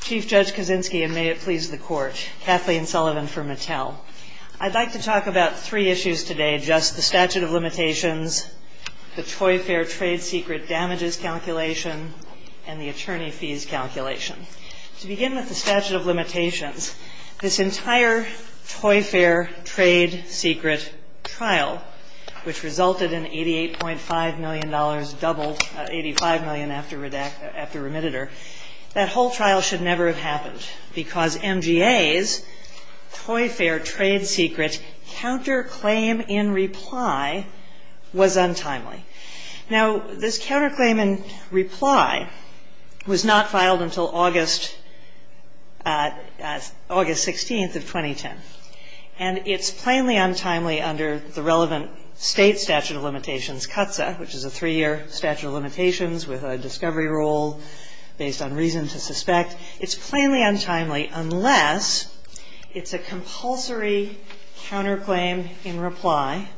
Chief Judge Kaczynski, and may it please the Court, Kathleen Sullivan for Mattel. I'd like to talk about three issues today, just the statute of limitations, the Toy Fair trade secret damages calculation, and the attorney fees calculation. To begin with the statute of limitations, this entire Toy Fair trade secret trial, which resulted in $88.5 million, doubled $85 million after remitter, that whole trial should never have happened because MGA's Toy Fair trade secret counterclaim in reply was untimely. Now, this counterclaim in reply was not filed until August 16th of 2010. And it's plainly untimely under the relevant state statute of limitations, CTSA, which is a three-year statute of limitations with a discovery rule based on reason to suspect. It's plainly untimely unless it's a compulsory counterclaim in reply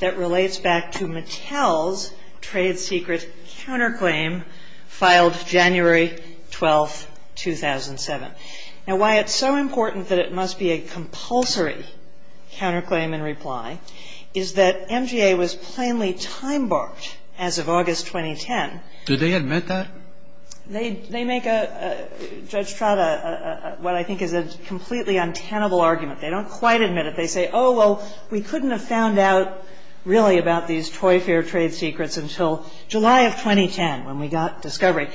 that relates back to Mattel's trade secret counterclaim filed January 12th, 2007. Now, why it's so important that it must be a compulsory counterclaim in reply is that MGA was plainly time-barred as of August 2010. Did they admit that? They make a, Judge Trout, what I think is a completely untenable argument. They don't quite admit it. They say, oh, well, we couldn't have found out really about these Toy Fair trade secrets until July of 2010 when we got discovery.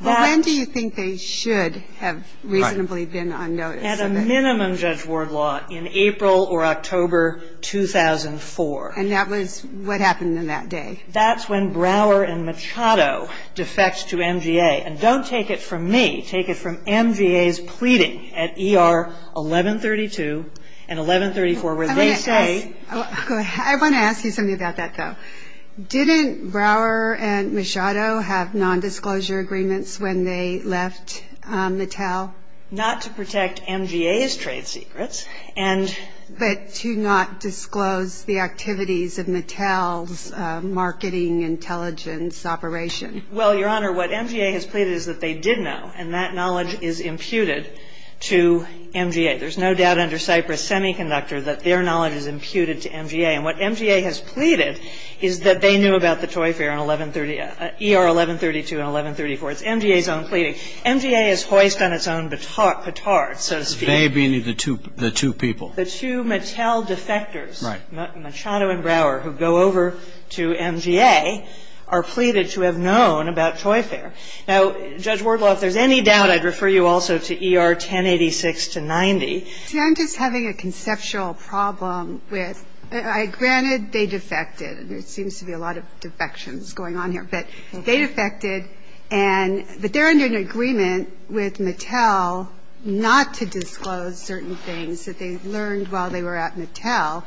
When do you think they should have reasonably been unnoticed? At a minimum, Judge Wardlaw, in April or October 2004. And that was, what happened in that day? That's when Brower and Machado defects to MGA. And don't take it from me. Take it from MGA's pleading at ER 1132 and 1134 where they say. I want to ask you something about that, though. Didn't Brower and Machado have nondisclosure agreements when they left Mattel? Not to protect MGA's trade secrets. But to not disclose the activities of Mattel's marketing intelligence operations. Well, Your Honor, what MGA has pleaded is that they did know. And that knowledge is imputed to MGA. There's no doubt under Cypress Semiconductor that their knowledge is imputed to MGA. And what MGA has pleaded is that they knew about the Toy Fair in ER 1132 and 1134. It's MGA's own pleading. MGA is hoist on its own baton. They being the two people. The two Mattel defectors, Machado and Brower, who go over to MGA, are pleaded to have known about Toy Fair. Now, Judge Wardwell, if there's any doubt, I'd refer you also to ER 1086-90. You know, I'm just having a conceptual problem. Granted, they defected. And there seems to be a lot of defections going on here. But they defected. But they're under an agreement with Mattel not to disclose certain things that they learned while they were at Mattel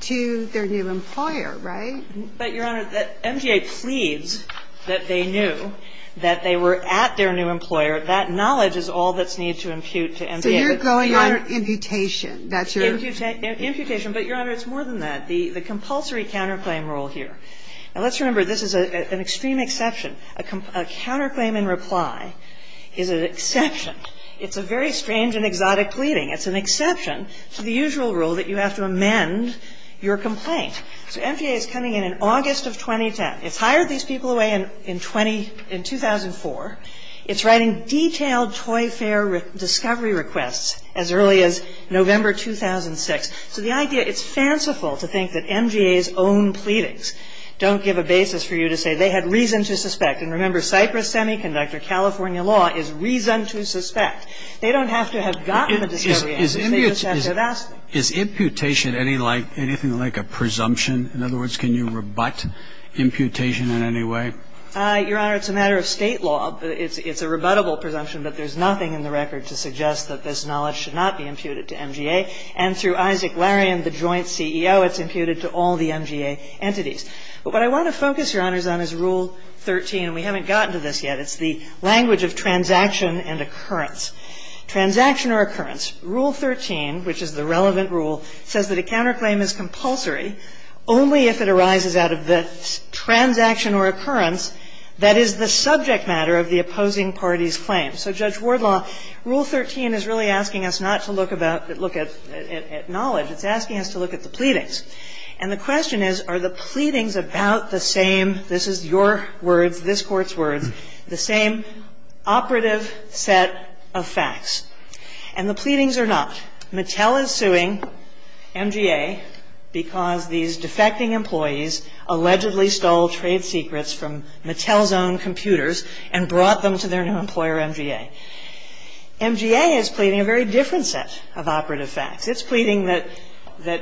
to their new employer, right? But, Your Honor, MGA pleads that they knew that they were at their new employer. That knowledge is all that's needed to impute to MGA. So you're going under imputation. Imputation. But, Your Honor, it's more than that. The compulsory counterclaim rule here. Now, let's remember, this is an extreme exception. A counterclaim in reply is an exception. It's a very strange and exotic pleading. It's an exception to the usual rule that you have to amend your complaint. So MGA is coming in August of 2010. It hired these people away in 2004. It's writing detailed Toy Fair discovery requests as early as November 2006. So the idea, it's fanciful to think that MGA's own pleadings don't give a basis for you to say they had reason to suspect. And remember, Cypress Semiconductor, California law, is reason to suspect. They don't have to have gotten a discovery. Is imputation anything like a presumption? In other words, can you rebut imputation in any way? Your Honor, it's a matter of state law. It's a rebuttable presumption that there's nothing in the record to suggest that this knowledge should not be imputed to MGA. And through Isaac Larian, the joint CEO, it's imputed to all the MGA entities. But what I want to focus, Your Honors, on is Rule 13. We haven't gotten to this yet. It's the language of transaction and occurrence. Transaction or occurrence. Rule 13, which is the relevant rule, says that a counterclaim is compulsory only if it arises out of the transaction or occurrence that is the subject matter of the opposing party's claim. So Judge Wardlaw, Rule 13 is really asking us not to look at knowledge. It's asking us to look at the pleadings. And the question is, are the pleadings about the same, this is your word, this Court's word, the same operative set of facts? And the pleadings are not. Mattel is suing MGA because these defecting employees allegedly stole trade secrets from Mattel's own computers and brought them to their new employer, MGA. MGA is pleading a very different set of operative facts. It's pleading that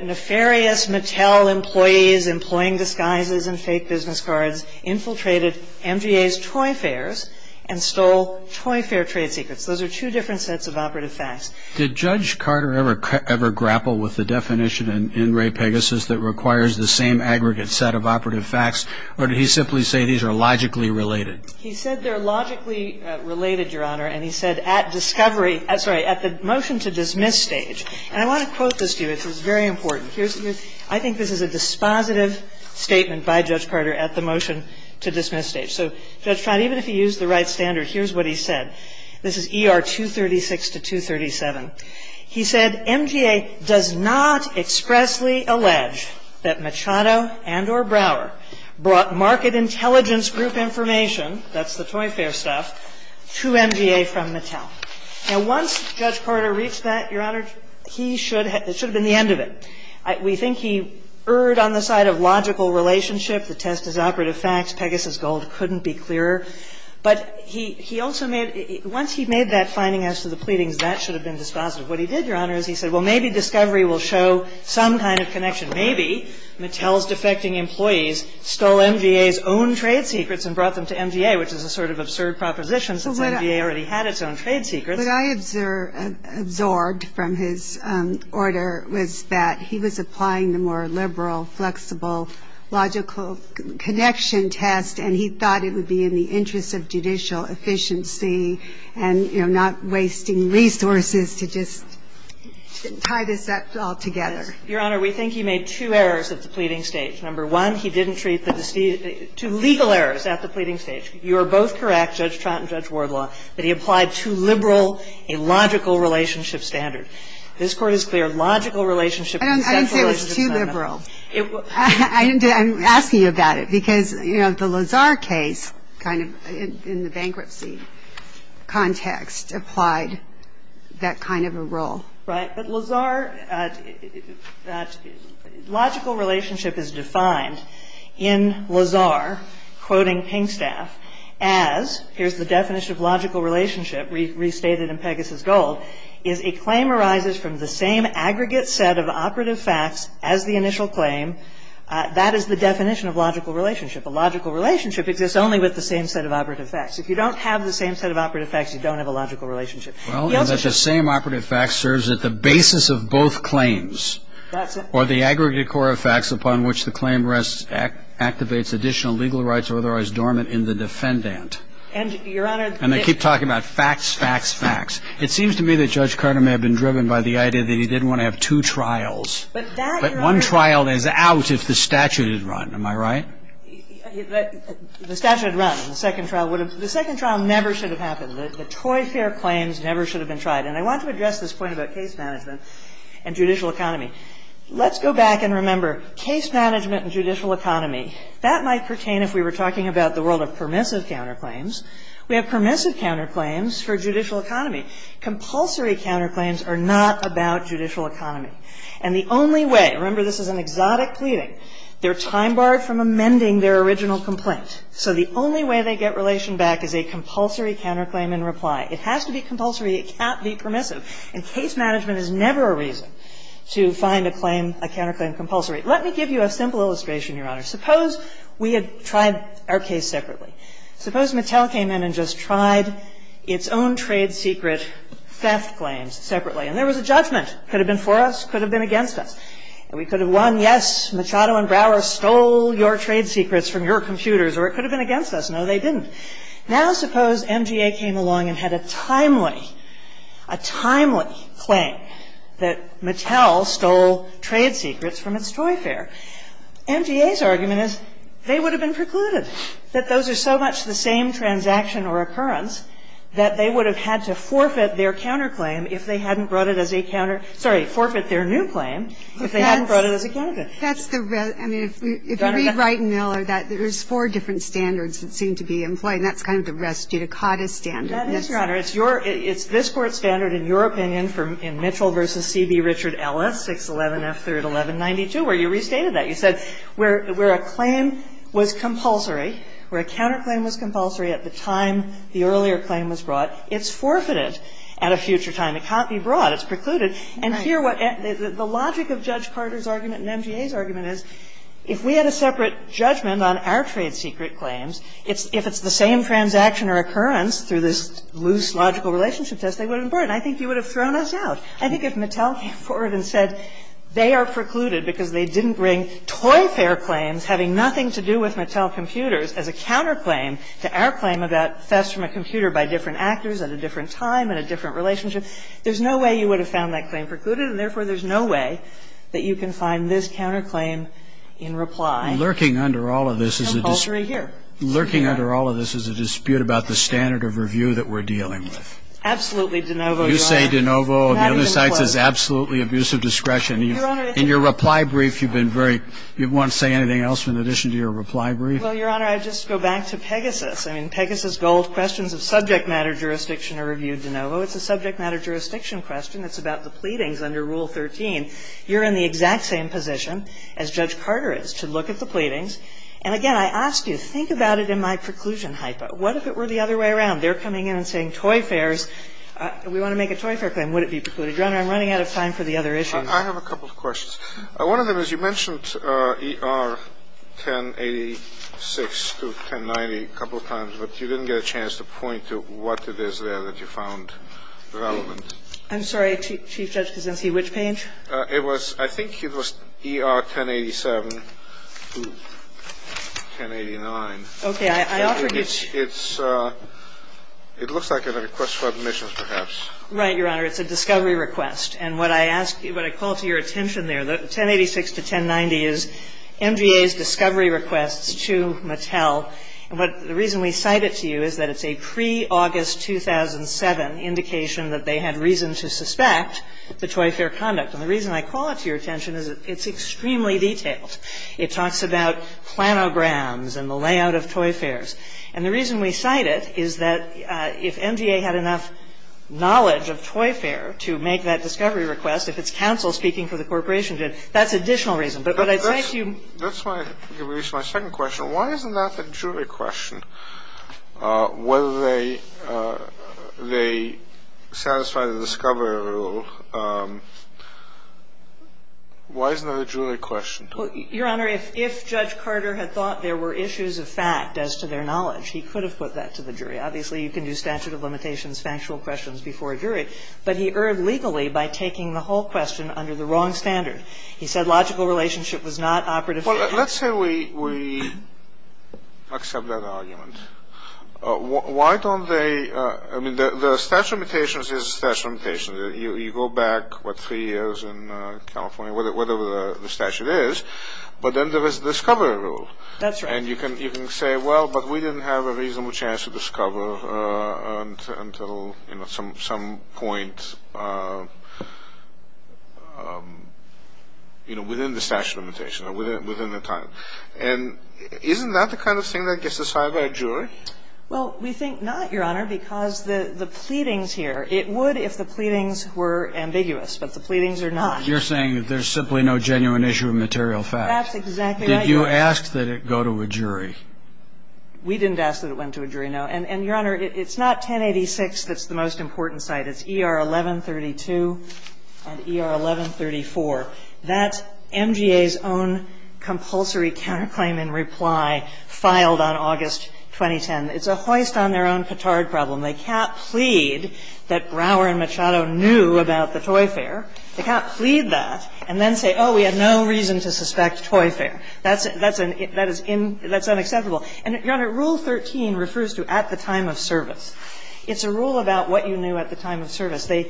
nefarious Mattel employees employing disguises and fake business cards infiltrated MGA's toy fairs and stole toy fair trade secrets. Those are two different sets of operative facts. Did Judge Carter ever grapple with the definition in Ray Pegasus that requires the same aggregate set of operative facts, or did he simply say these are logically related? He said they're logically related, Your Honor, and he said at the motion to dismiss stage. And I want to quote this to you. This is very important. I think this is a dispositive statement by Judge Carter at the motion to dismiss stage. So Judge Carter, even if he used the right standards, here's what he said. This is ER 236 to 237. He said, MGA does not expressly allege that Machado and or Brower brought market intelligence group information, that's the toy fair stuff, to MGA from Mattel. And once Judge Carter reached that, Your Honor, he should have been the end of it. We think he erred on the side of logical relationship. The test is operative facts. Pegasus gold couldn't be clearer. But he also made – once he made that finding as to the pleadings, that should have been dispositive. What he did, Your Honor, is he said, well, maybe discovery will show some kind of connection. Maybe Mattel's defecting employees stole MGA's own trade secrets and brought them to MGA, which is a sort of absurd proposition since MGA already had its own trade secrets. What I absorbed from his order was that he was applying the more liberal, flexible, logical connection test, and he thought it would be in the interest of judicial efficiency and, you know, not wasting resources to just tie this all together. Your Honor, we think he made two errors at the pleading stage. Number one, he didn't treat the – two legal errors at the pleading stage. You are both correct, Judge Trott and Judge Wardlaw, that he applied too liberal a logical relationship standard. This Court is clear. Logical relationship – I didn't say it was too liberal. I'm asking you about it because, you know, the Lazar case kind of in the bankruptcy context applied that kind of a role. Logical relationship is defined in Lazar, quoting Kingstaff, as – here's the definition of logical relationship restated in Pegasus Gold – is a claim arises from the same aggregate set of operative facts as the initial claim. That is the definition of logical relationship. A logical relationship exists only with the same set of operative facts. If you don't have the same set of operative facts, you don't have a logical relationship. Well, that the same operative facts serves as the basis of both claims. That's it. Or the aggregate core of facts upon which the claim rests activates additional legal rights or otherwise dormant in the defendant. And, Your Honor – And I keep talking about facts, facts, facts. It seems to me that Judge Carter may have been driven by the idea that he didn't want to have two trials. But that – But one trial is out if the statute is run. Am I right? The statute runs. The second trial would have – the second trial never should have happened. The Toy Fair claims never should have been tried. And I want to address this point about case management and judicial economy. Let's go back and remember case management and judicial economy. That might pertain if we were talking about the world of permissive counterclaims. We have permissive counterclaims for judicial economy. Compulsory counterclaims are not about judicial economy. And the only way – remember, this is an exotic pleading. They're time-barred from amending their original complaint. So the only way they get relation back is a compulsory counterclaim in reply. It has to be compulsory. It can't be permissive. And case management is never a reason to find a claim – a counterclaim compulsory. Let me give you a simple illustration, Your Honor. Suppose we had tried our case separately. Suppose McHale came in and just tried its own trade secret theft claims separately. And there was a judgment. Could have been for us, could have been against us. And we could have won, yes, Machado and Brower stole your trade secrets from your computers. Or it could have been against us. No, they didn't. Now suppose MGA came along and had a timely – a timely claim that McHale stole trade secrets from its toy fair. MGA's argument is they would have been precluded. That those are so much the same transaction or occurrence that they would have had to forfeit their counterclaim if they hadn't brought it as a counter – sorry, forfeit their new claim if they hadn't brought it as a counterclaim. That's the – I mean, if you read Wright and Miller, there's four different standards that seem to be in play, and that's kind of the res judicata standard. That is, Your Honor. It's your – it's this Court's standard, in your opinion, in Mitchell v. C.B. Richard Ellis, 611-F3-1192, where you restated that. You said where a claim was compulsory, where a counterclaim was compulsory at the time the earlier claim was brought, it's forfeited at a future time. It can't be brought. It's precluded. And here what – the logic of Judge Carter's argument and MGA's argument is if we had a separate judgment on our trade secret claims, if it's the same transaction or occurrence through this loose logical relationship test, they wouldn't have brought it. I think you would have thrown us out. I think if McHale came forward and said they are precluded because they didn't bring toy fair claims having nothing to do with McHale computers as a counterclaim to our claim about theft from a computer by different actors at a different time and a different relationship, there's no way you would have found that claim precluded, and therefore there's no way that you can find this counterclaim in reply. Lurking under all of this is a dispute about the standard of review that we're dealing with. Absolutely, DeNovo. You say DeNovo, and the other side says absolutely abusive discretion. In your reply brief, you've been very – you won't say anything else in addition to your reply brief? Well, Your Honor, I just go back to Pegasus. I mean, Pegasus goals questions of subject matter jurisdiction are reviewed DeNovo. It's a subject matter jurisdiction question. It's about the pleadings under Rule 13. You're in the exact same position as Judge Carter is to look at the pleadings. And again, I asked you to think about it in my preclusion hypo. What if it were the other way around? They're coming in and saying toy fairs. We want to make a toy fair claim. Would it be precluded? Your Honor, I'm running out of time for the other issues. I have a couple of questions. One of them is you mentioned ER 1086 to 1090 a couple of times, but you didn't get a chance to point to what it is there that you found relevant. I'm sorry. Chief Judge Kosinski, which page? It was – I think it was ER 1087 to 1089. Okay. It looks like a request for admissions, perhaps. Right, Your Honor. It's a discovery request. And what I call to your attention there, the 1086 to 1090 is MGA's discovery request to Mattel. But the reason we cite it to you is that it's a pre-August 2007 indication that they had reason to suspect the toy fair conduct. And the reason I call it to your attention is it's extremely detailed. It talks about planograms and the layout of toy fairs. And the reason we cite it is that if MGA had enough knowledge of toy fair to make that discovery request, if it's counsel speaking for the corporation judge, that's additional reason. But what I'd like you – That's why I didn't reach my second question. Why isn't that the jury question, whether they satisfy the discovery rule? Why isn't that a jury question? Your Honor, if Judge Carter had thought there were issues of fact as to their knowledge, he could have put that to the jury. Obviously, you can do statute of limitations, factual questions before a jury. But he erred legally by taking the whole question under the wrong standard. He said logical relationship was not operative. Well, let's say we accept that argument. Why don't they – I mean, the statute of limitations is the statute of limitations. You go back, what, three years in California, whatever the statute is, but then there is a discovery rule. That's right. And you can say, well, but we didn't have a reasonable chance to discover until, you know, some point, you know, within the statute of limitations or within the time. And isn't that the kind of thing that gets decided by a jury? Well, we think not, Your Honor, because the pleadings here, it would if the pleadings were ambiguous, but the pleadings are not. You're saying that there's simply no genuine issue of material fact. That's exactly right. Did you ask that it go to a jury? We didn't ask that it went to a jury, no. And, Your Honor, it's not 1086 that's the most important side. It's ER 1132 and ER 1134. That's MGA's own compulsory counterclaim in reply filed on August 2010. It's a hoist on their own petard problem. They can't plead that Brower and Machado knew about the toy fair. They can't plead that and then say, oh, we had no reason to suspect toy fair. That's unacceptable. And, Your Honor, Rule 13 refers to at the time of service. It's a rule about what you knew at the time of service. You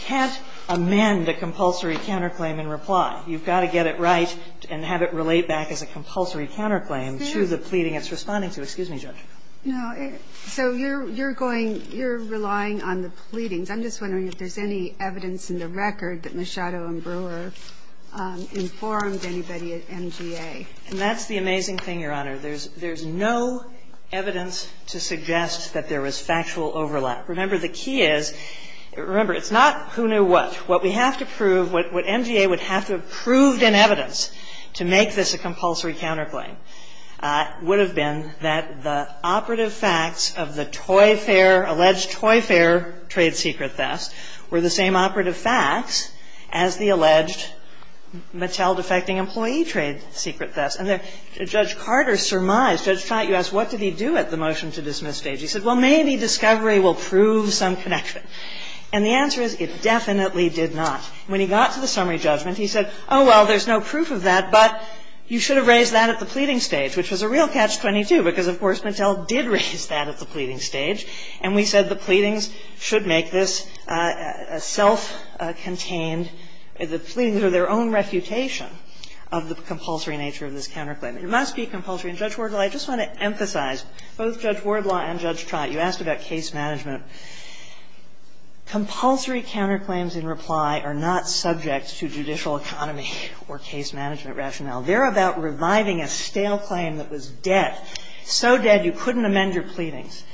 can't amend a compulsory counterclaim in reply. You've got to get it right and have it relate back as a compulsory counterclaim to the pleading it's responding to. Excuse me, Judge. So you're relying on the pleadings. I'm just wondering if there's any evidence in the record that Machado and Brower informed anybody at MGA. And that's the amazing thing, Your Honor. There's no evidence to suggest that there was factual overlap. Remember, the key is, remember, it's not who knew what. What we have to prove, what MGA would have to have proved in evidence to make this a compulsory counterclaim would have been that the operative facts of the toy fair, alleged toy fair trade secret theft were the same operative facts as the alleged Machado defecting employee trade secret theft. And Judge Carter surmised, Judge Carter, you asked what did he do at the motion to dismiss stage. He said, well, maybe discovery will prove some connection. And the answer is, it definitely did not. When he got to the summary judgment, he said, oh, well, there's no proof of that, but you should have raised that at the pleading stage, which was a real catch-22, because, of course, Natel did raise that at the pleading stage. And we said the pleadings should make this a self-contained, the pleadings are their own refutation of the compulsory nature of this counterclaim. It must be compulsory. And Judge Wardlaw, I just want to emphasize, both Judge Wardlaw and Judge Trott, you asked about case management. Compulsory counterclaims in reply are not subject to judicial autonomy or case management rationale. They're about reviving a stale claim that was dead, so dead you couldn't amend your pleadings.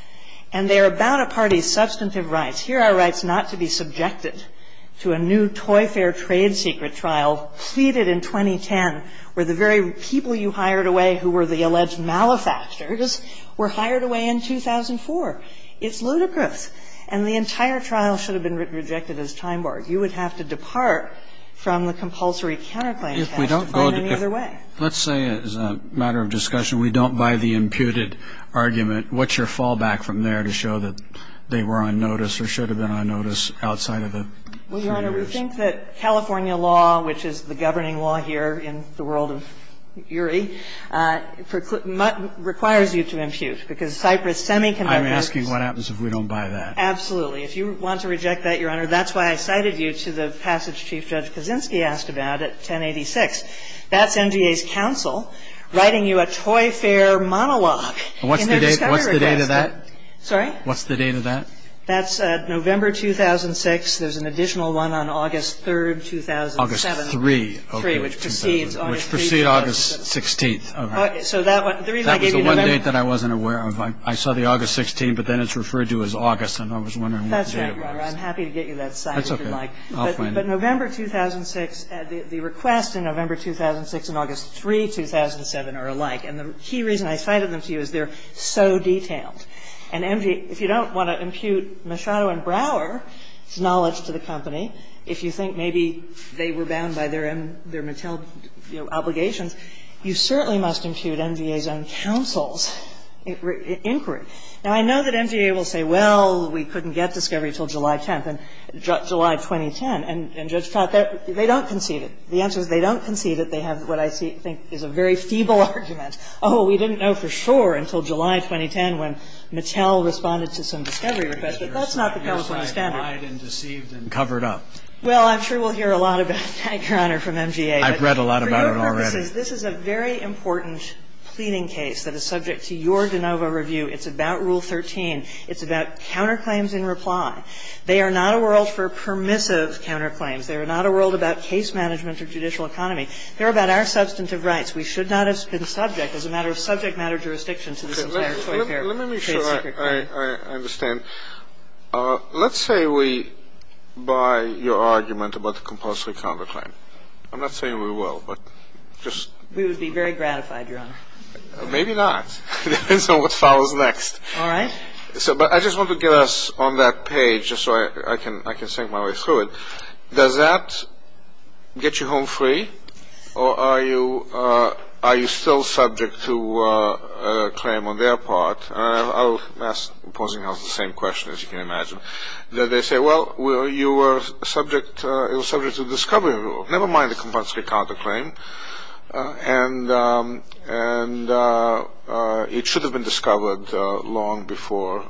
And they're about a party's substantive rights. Here are rights not to be subjected to a new toy fair trade secret trial pleaded in 2010, where the very people you hired away who were the alleged malefactors were hired away in 2004. It's ludicrous. And the entire trial should have been rejected as time war. You would have to depart from the compulsory counterclaims in any other way. Let's say, as a matter of discussion, we don't buy the imputed argument. What's your fallback from there to show that they were on notice or should have been on notice outside of the three years? Your Honor, we think that California law, which is the governing law here in the world of URI, requires you to impute because Cypress Semiconductor. I'm asking what happens if we don't buy that. Absolutely. If you want to reject that, Your Honor, that's why I cited you to the passage Chief Judge Kaczynski asked about at 1086. That's MGA's counsel writing you a toy fair monologue. What's the date of that? Sorry? What's the date of that? That's November 2006. There's an additional one on August 3, 2007. August 3. Which precedes August 16. Okay. So that one, the reason I gave you that. That was the one date that I wasn't aware of. I saw the August 16, but then it's referred to as August, and I was wondering what day it was. That's okay, Your Honor. I'm happy to get you that cite if you like. That's okay. I'll find it. But November 2006, the request in November 2006 and August 3, 2007 are alike. And the key reason I cited them to you is they're so detailed. And if you don't want to impute Machado and Brower's knowledge to the company, if you think maybe they were bound by their Mattel obligation, you certainly must impute MGA's own counsel's inquiry. And I know that MGA will say, well, we couldn't get discovery until July 10th, July 2010. And Judge Kotka, they don't concede it. The answer is they don't concede it. They have what I think is a very feeble argument. Oh, we didn't know for sure until July 2010 when Mattel responded to some discovery requests. But that's not the case. That's why I'm flied and deceived and covered up. Well, I'm sure we'll hear a lot about it. Thank you, Your Honor, from MGA. I've read a lot about it already. This is a very important pleading case that is subject to your de novo review. It's about Rule 13. It's about counterclaims in reply. They are not a world for permissive counterclaims. They are not a world about case management or judicial economy. They're about our substantive rights. We should not have been subject as a matter of subject matter jurisdiction to this case. Let me make sure I understand. Let's say we buy your argument about the compulsory counterclaim. I'm not saying we will, but just. We would be very gratified, Your Honor. Maybe not. We don't know what follows next. All right. But I just want to get us on that page just so I can sink my way through it. Does that get you home free, or are you still subject to a claim on their part? I was posing the same question, as you can imagine. They say, well, you were subject to discovery. Never mind the compulsory counterclaim. And it should have been discovered long before.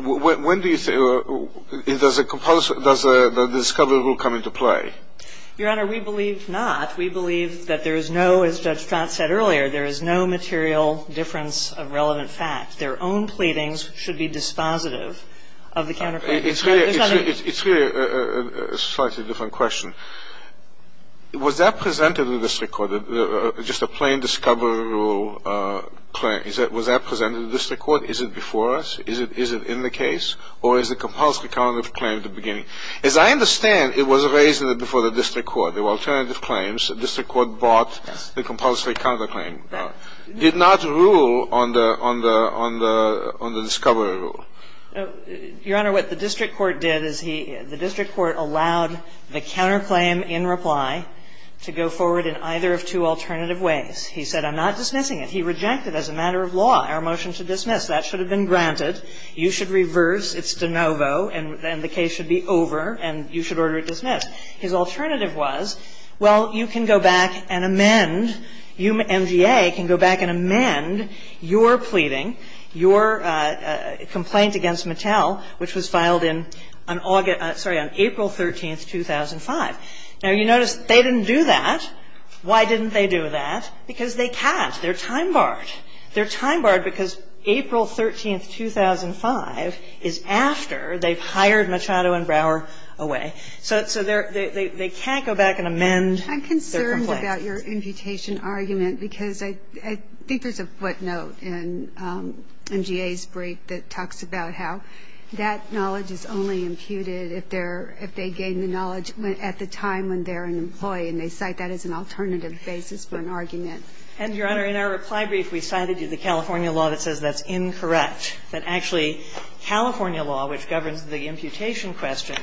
When do you say the discovery will come into play? Your Honor, we believe not. We believe that there is no, as Scott said earlier, there is no material difference of relevant facts. Their own claimings should be dispositive of the counterclaim. It's really a slightly different question. Was that presented to the district court, just a plain discovery rule claim? Was that presented to the district court? Is it before us? Is it in the case? Or is the compulsory counterclaim the beginning? As I understand, it was raised before the district court. There were alternative claims. The district court bought the compulsory counterclaim. It did not rule on the discovery rule. Your Honor, what the district court did is the district court allowed the counterclaim in reply to go forward in either of two alternative ways. He said, I'm not dismissing it. He rejected as a matter of law our motion to dismiss. That should have been granted. You should reverse. It's de novo. And the case should be over. And you should order it dismissed. His alternative was, well, you can go back and amend, you, MGA, can go back and amend your pleading, your complaint against Mattel, which was filed on April 13, 2005. Now, you notice they didn't do that. Why didn't they do that? Because they passed. They're time barred. They're time barred because April 13, 2005 is after they've hired Mattel and Brower away. So they can't go back and amend their complaint. I'm concerned about your imputation argument because I think there's a footnote in MGA's brief that talks about how that knowledge is only imputed if they gain the knowledge at the time when they're an employee. And they cite that as an alternative basis for an argument. And, Your Honor, in our reply brief, we cited you the California law that says that's incorrect. But actually, California law, which governs the imputation question,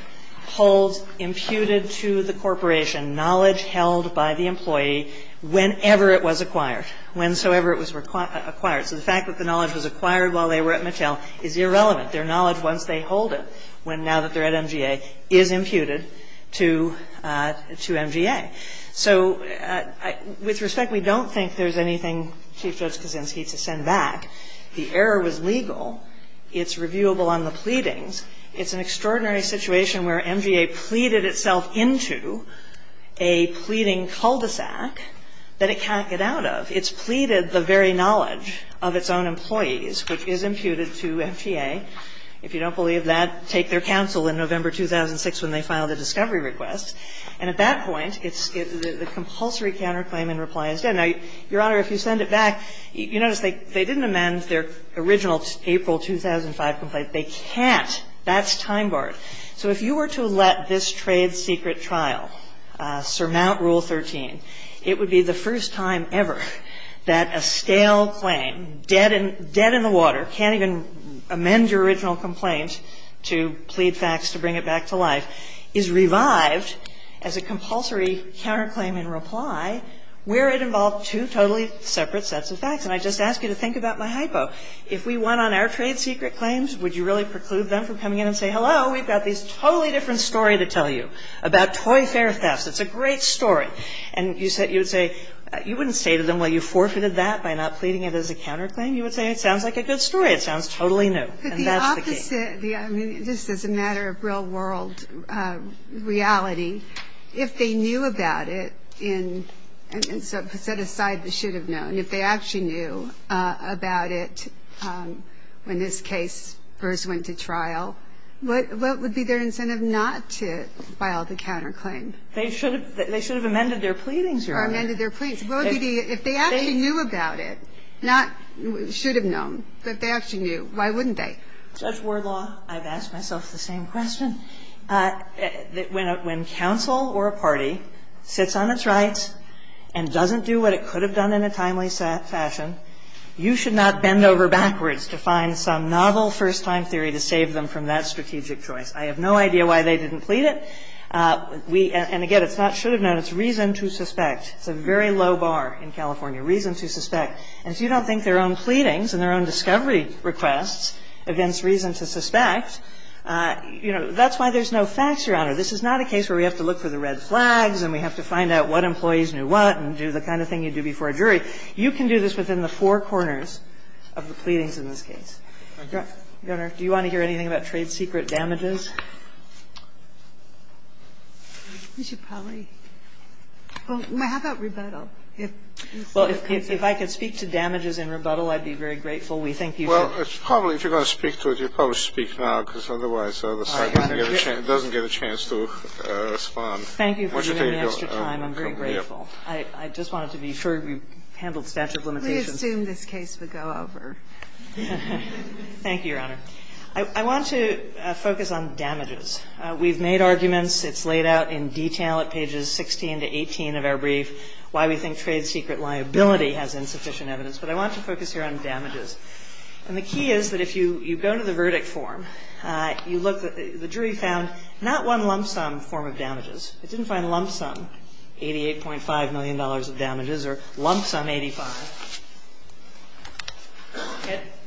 holds imputed to the corporation knowledge held by the employee whenever it was acquired, whensoever it was acquired. So the fact that the knowledge was acquired while they were at Mattel is irrelevant. Their knowledge, once they hold it, now that they're at MGA, is imputed to MGA. So, with respect, we don't think there's anything Chief Judge Cosentino can send back. The error was legal. It's reviewable on the pleadings. It's an extraordinary situation where MGA pleaded itself into a pleading cul-de-sac that it can't get out of. It's pleaded the very knowledge of its own employees, which is imputed to MGA. If you don't believe that, take their counsel in November 2006 when they filed the discovery request. And at that point, the compulsory counterclaim and reply is done. Now, Your Honor, if you send it back, you notice they didn't amend their original April 2005 complaint. They can't. That's time barred. So if you were to let this trade secret trial surmount Rule 13, it would be the first time ever that a stale claim, dead in the water, can't even amend your original complaint to plead facts to bring it back to life, is revived as a compulsory counterclaim and reply where it involves two totally separate sets of facts. And I just ask you to think about my hypo. If we won on our trade secret claims, would you really preclude them from coming in and say, hello, we've got this totally different story to tell you about toy fare theft. It's a great story. And you would say, you wouldn't say to them, well, you forfeited that by not pleading it as a counterclaim. You would say, it sounds like a good story. It sounds totally new. And that's the case. The opposite. This is a matter of real world reality. If they knew about it, set aside the should have known, if they actually knew about it, in this case, Gers went to trial, what would be their incentive not to file the counterclaim? They should have amended their pleadings, Your Honor. Or amended their pleadings. If they actually knew about it, not should have known, but if they actually knew, why wouldn't they? That's war law. I've asked myself the same question. When counsel or a party fits on its rights and doesn't do what it could have done in a timely fashion, you should not bend over backwards to find some novel first-time theory to save them from that strategic choice. I have no idea why they didn't plead it. And again, it's not should have known. It's reason to suspect. It's a very low bar in California. Reason to suspect. And if you don't think their own pleadings and their own discovery request evinces reason to suspect, that's why there's no facts, Your Honor. This is not a case where we have to look for the red flags and we have to find out what employees knew what and do the kind of thing you do before a jury. You can do this within the four corners of the pleadings in this case. Your Honor, do you want to hear anything about trade secret damages? You should probably. How about rebuttal? Well, if I could speak to damages and rebuttal, I'd be very grateful. We thank you. Well, probably if you're going to speak to it, you probably should speak now, because otherwise the other side doesn't get a chance to respond. Thank you for giving me extra time. I'm very grateful. I just wanted to be sure we handled statute of limitations. We assume this case will go over. Thank you, Your Honor. I want to focus on damages. We've made arguments. It's laid out in detail at pages 16 to 18 of our brief, why we think trade secret liability has insufficient evidence. But I want to focus here on damages. And the key is that if you go to the verdict form, the jury found not one lump sum form of damages. It didn't find lump sum, $88.5 million of damages or lump sum 85.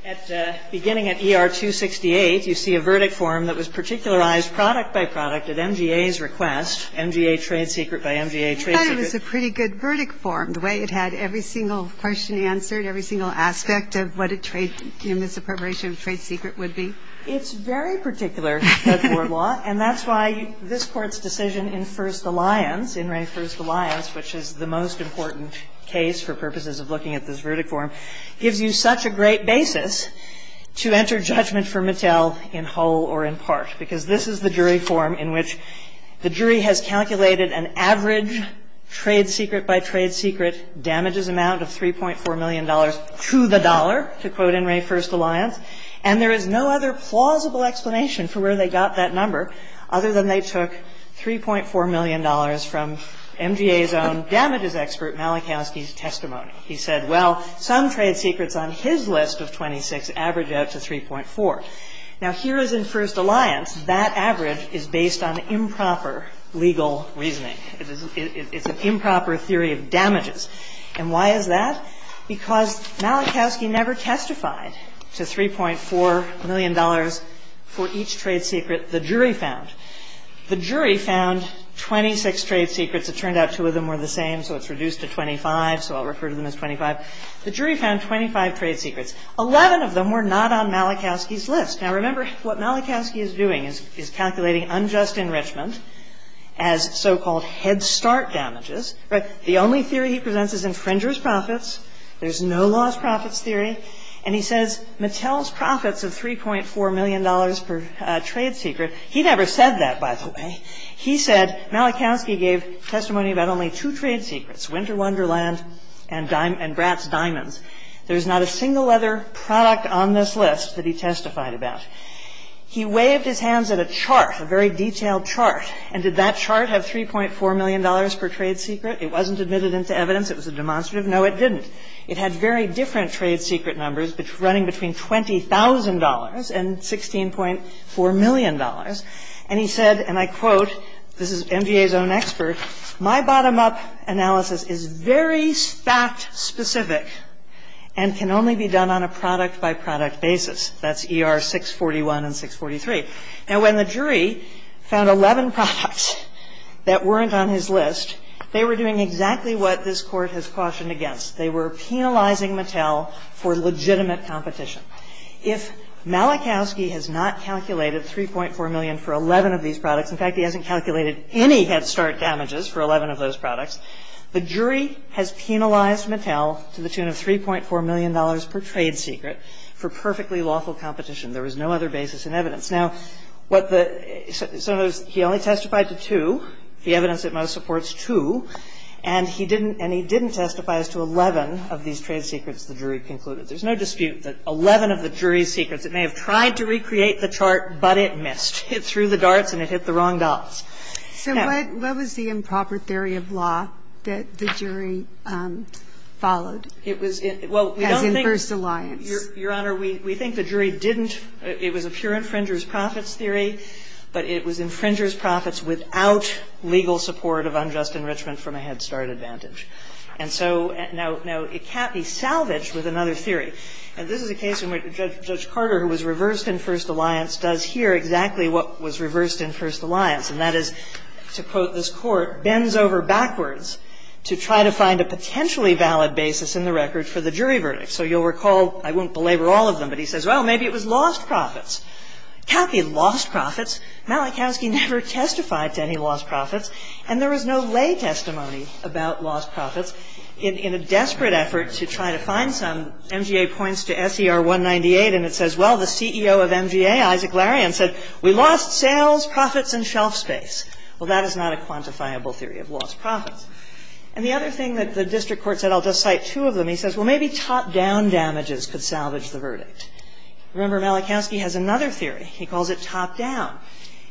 At the beginning of ER 268, you see a verdict form that was particularized product by product at MGA's request, MGA trade secret by MGA trade secret. I thought it was a pretty good verdict form. The way it had every single question answered, every single aspect of what a trade secret would be. It's very particular to court law, and that's why this court's decision in first alliance, which is the most important case for purposes of looking at this verdict form, gives you such a great basis to enter judgment for Mattel in whole or in part. Because this is the jury form in which the jury has calculated an average trade secret by trade secret damages amount of $3.4 million to the dollar, to quote in Ray first alliance. And there is no other plausible explanation for where they got that number, other than they took $3.4 million from MGA's own damages expert Malachowski's testimony. He said, well, some trade secrets on his list of 26 average out to 3.4. Now, here is in first alliance, that average is based on improper legal reasoning. It's an improper theory of damages. And why is that? Because Malachowski never testified to $3.4 million for each trade secret the jury found. The jury found 26 trade secrets. It turned out two of them were the same, so it's reduced to 25, so I'll refer to them as 25. The jury found 25 trade secrets. Eleven of them were not on Malachowski's list. Now, remember, what Malachowski is doing is calculating unjust enrichment as so-called head start damages. But the only theory he presents is infringer's profits. There's no lost profits theory. And he says, Mattel's profits are $3.4 million per trade secret. He never said that, by the way. He said, Malachowski gave testimony about only two trade secrets, winter wonderland and brass diamonds. There's not a single other product on this list that he testified about. He waved his hands at a chart, a very detailed chart. And did that chart have $3.4 million per trade secret? It wasn't admitted into evidence. It was a demonstrative. No, it didn't. It had very different trade secret numbers running between $20,000 and $16.4 million. And he said, and I quote, this is NGA's own expert, my bottom-up analysis is very stat-specific and can only be done on a product-by-product basis. That's ER 641 and 643. And when the jury found 11 products that weren't on his list, they were doing exactly what this court has cautioned against. They were penalizing Mattel for legitimate competition. If Malachowski has not calculated $3.4 million for 11 of these products, in fact, he hasn't calculated any head start damages for 11 of those products, the jury has penalized Mattel to the tune of $3.4 million per trade secret for perfectly lawful competition. There was no other basis in evidence. Now, so he only testified to two, the evidence that most supports two, and he didn't testify as to 11 of these trade secrets the jury concluded. There's no dispute that 11 of the jury's secrets, it may have tried to recreate the chart, but it missed. It threw the darts and it hit the wrong dots. So what was the improper theory of law that the jury followed? Well, we don't think the jury didn't. It was a pure infringer's profits theory, but it was infringer's profits without legal support of unjust enrichment from a head start advantage. And so now it can't be salvaged with another theory, and this is a case in which Judge Carter, who was reversed in First Alliance, does here exactly what was reversed in First Alliance, and that is to quote this court, bends over backwards to try to find a potentially valid basis in the record for the jury verdict. So you'll recall, I won't belabor all of them, but he says, well, maybe it was lost profits. Kalki lost profits. Malachowski never testified to any lost profits, and there was no lay testimony about lost profits. In a desperate effort to try to find some, MGA points to SER 198 and it says, well, the CEO of MGA, Isaac Larian, said, we lost sales, profits, and shelf space. Well, that is not a quantifiable theory of lost profits. And the other thing that the district court said, I'll just cite two of them, and he says, well, maybe top-down damages could salvage the verdict. Remember, Malachowski has another theory. He calls it top-down.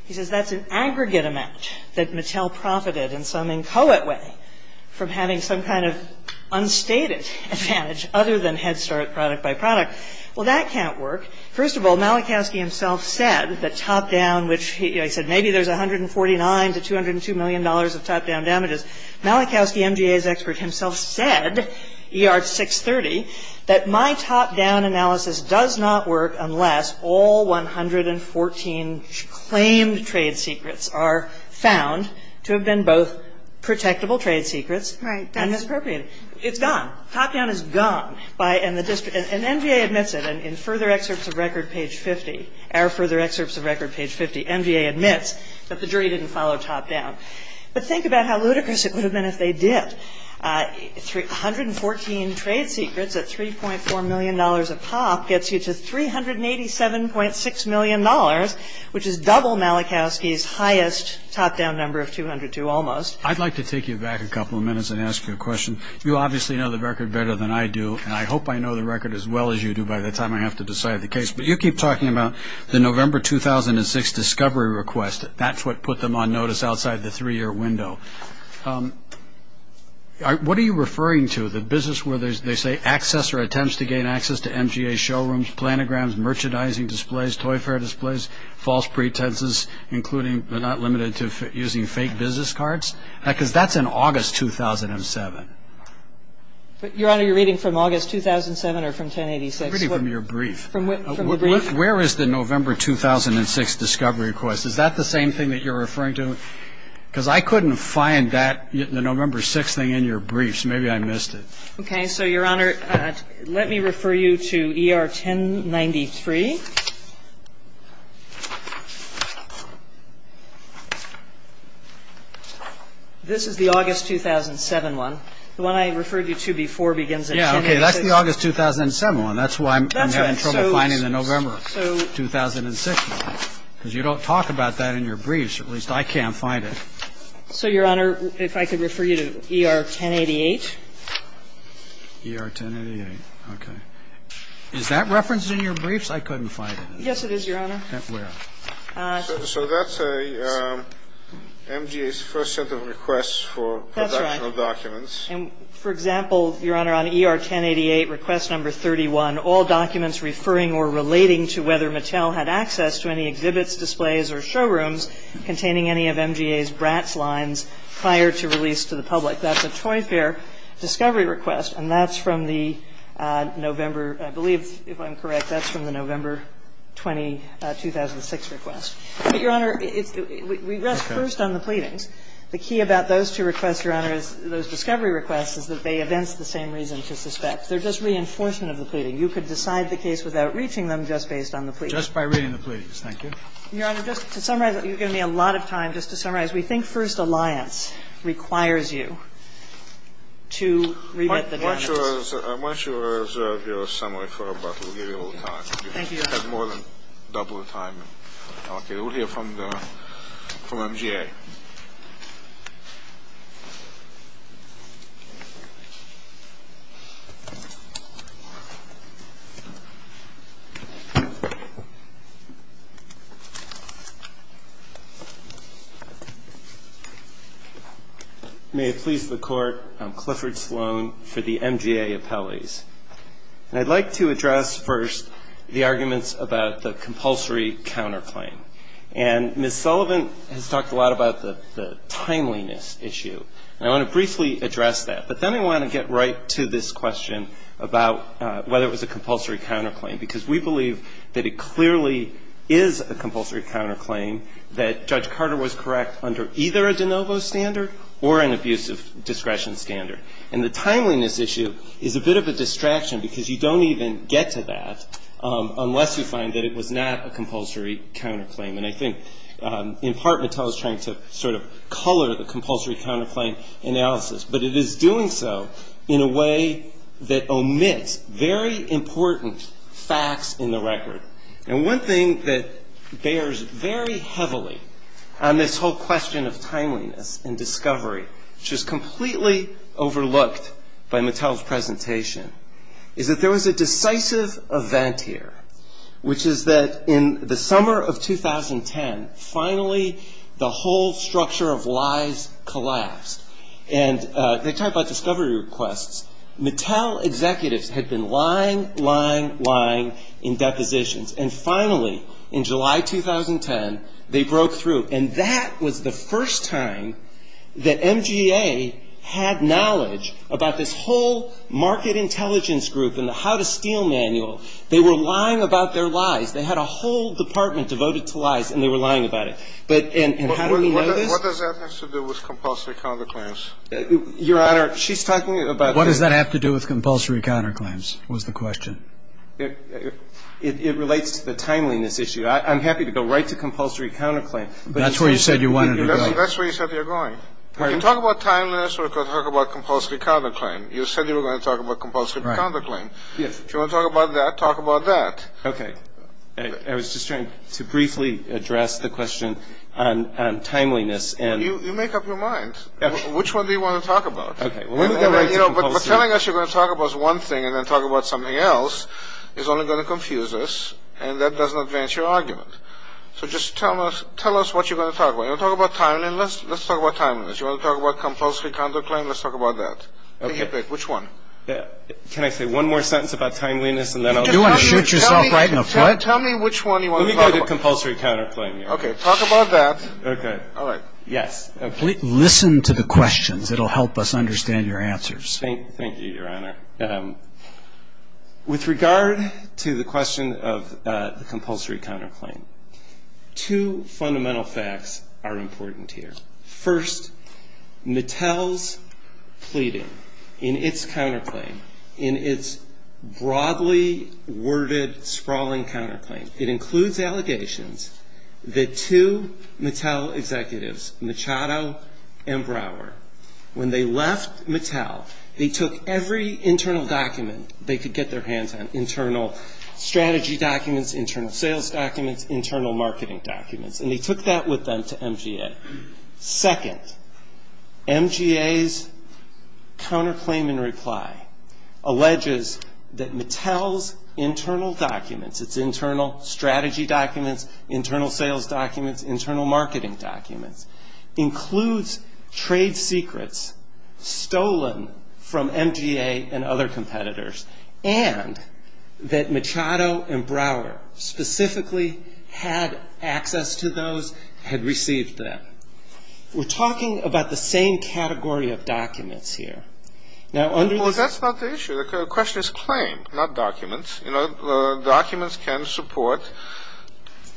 He says that's an aggregate amount that Mattel profited in some inchoate way from having some kind of unstated advantage other than head start, product by product. Well, that can't work. First of all, Malachowski himself said that top-down, which he said, maybe there's $149 to $202 million of top-down damages. Malachowski, MGA's expert himself, said, ER 630, that my top-down analysis does not work unless all 114 claimed trade secrets are found to have been both protectable trade secrets and misappropriated. It's done. Top-down is done. And MGA admits it. In further excerpts of record, page 50, our further excerpts of record, page 50, MGA admits that the jury didn't follow top-down. But think about how ludicrous it would have been if they did. 114 trade secrets at $3.4 million a pop gets you to $387.6 million, which is double Malachowski's highest top-down number of 202 almost. I'd like to take you back a couple of minutes and ask you a question. You obviously know the record better than I do, and I hope I know the record as well as you do by the time I have to decide the case. But you keep talking about the November 2006 discovery request. That's what put them on notice outside the three-year window. What are you referring to? The business where they say access or attempts to gain access to MGA showrooms, planograms, merchandising displays, toy fair displays, false pretenses, including but not limited to using fake business cards? Because that's in August 2007. Your Honor, you're reading from August 2007 or from 1086? I'm reading from your brief. Where is the November 2006 discovery request? Is that the same thing that you're referring to? Because I couldn't find that, the November 2006 thing in your brief, so maybe I missed it. Okay, so, Your Honor, let me refer you to ER 1093. This is the August 2007 one. The one I referred you to before begins at 1086. Yeah, okay, that's the August 2007 one. That's why I'm having trouble finding the November 2006 one. Because you don't talk about that in your briefs. At least I can't find it. So, Your Honor, if I could refer you to ER 1088. ER 1088, okay. Is that referenced in your briefs? I couldn't find it. Yes, it is, Your Honor. Where? So that's MGA's first set of requests for production of documents. That's right. And, for example, Your Honor, on ER 1088, request number 31, that's a Joint Fair discovery request. And that's from the November, I believe, if I'm correct, that's from the November 2006 request. But, Your Honor, we rest first on the pleadings. The key about those two requests, Your Honor, those discovery requests, is that they evince the same reasons as the specs. They're just reinforcement of the pleading. And you could decide the case without reaching them just based on the pleadings. Just by reading the pleadings. Thank you. Your Honor, just to summarize, you've given me a lot of time just to summarize. We think First Alliance requires you to revet the documents. I'm not sure of your summary, but we'll give you a little time. Thank you, Your Honor. You have more than double the time. Okay, we'll hear from MGA. May it please the Court, I'm Clifford Sloan for the MGA Appellees. And I'd like to address first the arguments about the compulsory counterclaim. And Ms. Sullivan has talked a lot about the timeliness issue. And I want to briefly address that. But then I want to get right to this question about whether it was a compulsory counterclaim. Because we believe that it clearly is a compulsory counterclaim that Judge Carter was correct under either a de novo standard or an abusive discretion standard. And the timeliness issue is a bit of a distraction because you don't even get to that unless you find that it was not a compulsory counterclaim. And I think in part Mattel is trying to sort of color the compulsory counterclaim analysis. But it is doing so in a way that omits very important facts in the record. And one thing that bears very heavily on this whole question of timeliness and discovery, which is completely overlooked by Mattel's presentation, is that there was a decisive event here, which is that in the summer of 2010, finally the whole structure of lies collapsed. And they talked about discovery requests. Mattel executives had been lying, lying, lying in depositions. And finally, in July 2010, they broke through. And that was the first time that MGA had knowledge about this whole market intelligence group and the how-to-steal manual. They were lying about their lies. They had a whole department devoted to lies, and they were lying about it. But how do we know that? What does that have to do with compulsory counterclaims? Your Honor, she's talking about... What does that have to do with compulsory counterclaims was the question. It relates to the timeliness issue. I'm happy to go right to compulsory counterclaims. That's where you said you wanted to go. That's where you said you were going. When you talk about timeliness, we're going to talk about compulsory counterclaim. You said you were going to talk about compulsory counterclaim. If you want to talk about that, talk about that. Okay. I was just trying to briefly address the question on timeliness and... You make up your mind. Which one do you want to talk about? Okay. But telling us you're going to talk about one thing and then talk about something else is only going to confuse us, and that doesn't advance your argument. So just tell us what you're going to talk about. You want to talk about timeliness? Let's talk about timeliness. You want to talk about compulsory counterclaim? Let's talk about that. Okay. Which one? Can I say one more sentence about timeliness, and then I'll... You want to shoot yourself right in the foot? Tell me which one you want to talk about. Let me go to compulsory counterclaim here. Okay. Talk about that. Okay. All right. Yes. Listen to the questions. It'll help us understand your answers. Thank you, Your Honor. With regard to the question of compulsory counterclaim, two fundamental facts are important here. First, Mattel's pleading in its counterclaim, in its broadly worded, sprawling counterclaim, it includes allegations that two Mattel executives, Machado and Brower, when they left Mattel, they took every internal document they could get their hands on, internal strategy documents, internal sales documents, internal marketing documents, and they took that with them to MGA. Second, MGA's counterclaim in reply alleges that Mattel's internal documents, its internal strategy documents, internal sales documents, internal marketing documents, includes trade secrets stolen from MGA and other competitors, and that Machado and Brower specifically had access to those, had received them. We're talking about the same category of documents here. Well, that's not the issue. The question is claim, not documents. You know, documents can support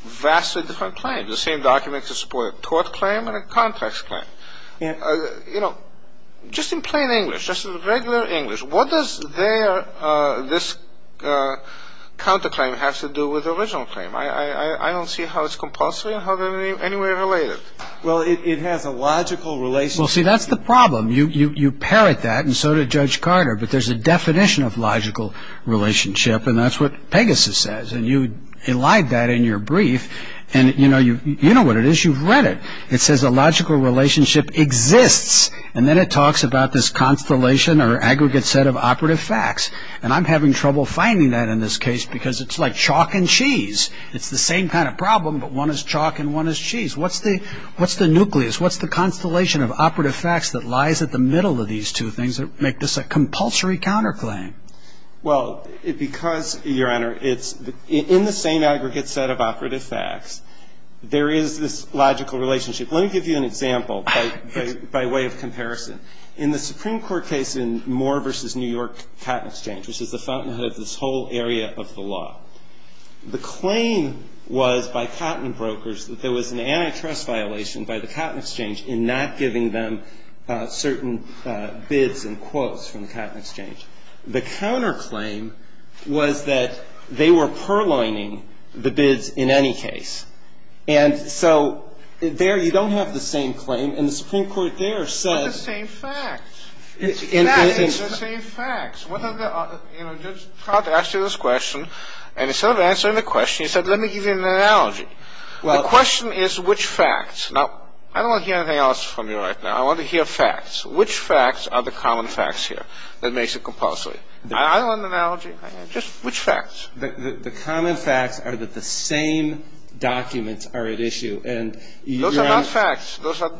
vastly different claims. The same documents can support a tort claim and a contracts claim. You know, just in plain English, just in regular English, what does this counterclaim have to do with the original claim? I don't see how it's compulsory or how they're any way related. Well, it has a logical relationship. Well, see, that's the problem. You parrot that, and so did Judge Carter, but there's a definition of logical relationship, and that's what Pegasus says, and you elide that in your brief, and you know what it is. You've read it. It says a logical relationship exists, and then it talks about this constellation or aggregate set of operative facts, and I'm having trouble finding that in this case because it's like chalk and cheese. It's the same kind of problem, but one is chalk and one is cheese. What's the nucleus? What's the constellation of operative facts that lies at the middle of these two things that make this a compulsory counterclaim? Well, because, Your Honor, in the same aggregate set of operative facts, there is this logical relationship. Let me give you an example by way of comparison. In the Supreme Court case in Moore v. New York Cotton Exchange, which is the fountainhead of this whole area of the law, the claim was by cotton brokers that there was an antitrust violation by the Cotton Exchange in not giving them certain bids and quotes from the Cotton Exchange. The counterclaim was that they were purlining the bids in any case, and so there you don't have the same claim, and the Supreme Court there says... It's the same facts. That is the same facts. What are the other... I asked you this question, and instead of answering the question, you said, let me give you an analogy. The question is which facts. Now, I don't want to hear anything else from you right now. I want to hear facts. Which facts are the common facts here that makes it compulsory? I don't want an analogy. Just which facts. The common facts are that the same documents are at issue. Those are not facts. Those are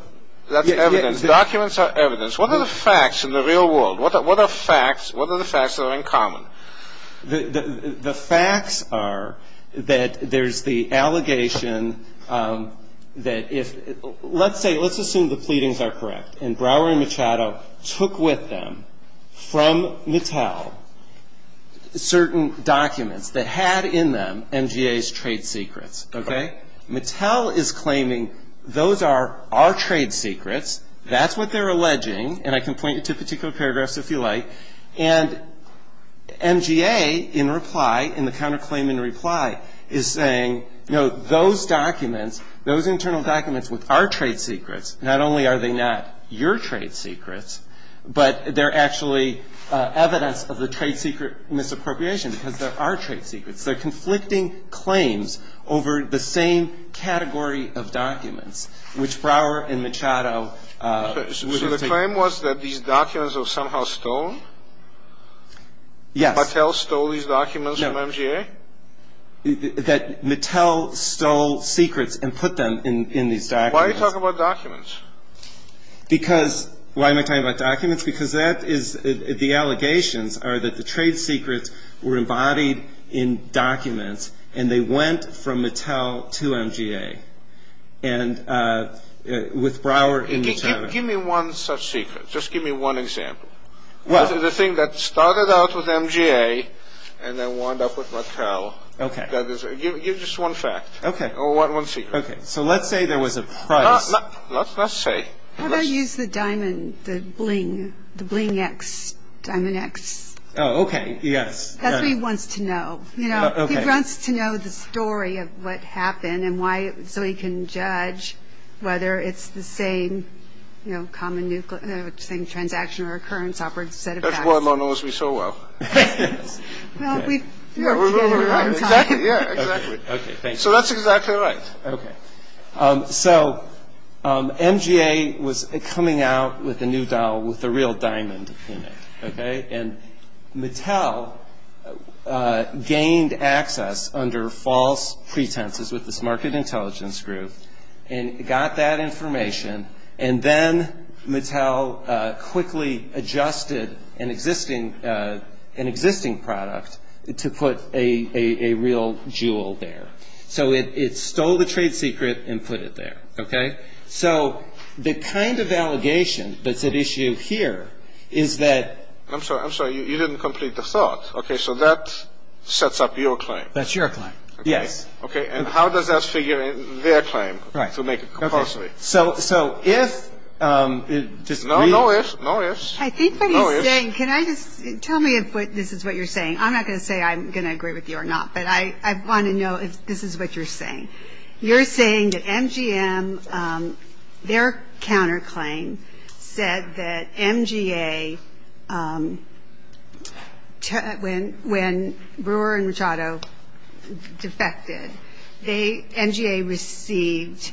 evidence. Documents are evidence. What are the facts in the real world? What are the facts that are in common? The facts are that there's the allegation that if... Let's assume the pleadings are correct, and Brower and Machado took with them from Mattel certain documents that had in them NGA's trade secrets. Mattel is claiming those are our trade secrets. That's what they're alleging, and I can point you to particular paragraphs if you like. And NGA, in reply, in the counterclaim in reply, is saying, you know, those documents, those internal documents which are trade secrets, not only are they not your trade secrets, but they're actually evidence of the trade secret misappropriation because they are trade secrets. They're conflicting claims over the same category of documents, which Brower and Machado... So the claim was that these documents were somehow stolen? Yeah. Mattel stole these documents from NGA? That Mattel stole secrets and put them in these documents. Why are you talking about documents? Because... Why am I talking about documents? Because that is... The allegations are that the trade secrets were embodied in documents, and they went from Mattel to NGA. And with Brower... Give me one such secret. Just give me one example. The thing that started out with NGA and then wound up with Mattel. Give just one fact or one secret. Okay. So let's say there was a... Let's say... How about use the diamond, the bling, the bling X, Diamond X? Oh, okay, yes. That's what he wants to know. He wants to know the story of what happened and why... So he can judge whether it's the same, you know, common... the same transaction or occurrence... Everyone knows me so well. So that's exactly right. Okay. So NGA was coming out with a new dial with a real diamond in it, okay? And Mattel gained access under false pretenses with this market intelligence group and got that information, and then Mattel quickly adjusted an existing product to put a real jewel there. So it stole the trade secret and put it there, okay? So the kind of allegation that's at issue here is that... I'm sorry. I'm sorry. You didn't complete the thought. Okay. So that sets up your claim. That's your claim. Yes. Okay. And how does that figure in their claim to make it compulsory? Right. Okay. So if... No ifs. No ifs. I think what he's saying... Can I just... Tell me if this is what you're saying. I'm not going to say I'm going to agree with you or not, but I want to know if this is what you're saying. You're saying that MGM, their counterclaim, said that MGA, when Brewer and Machado defected, MGA received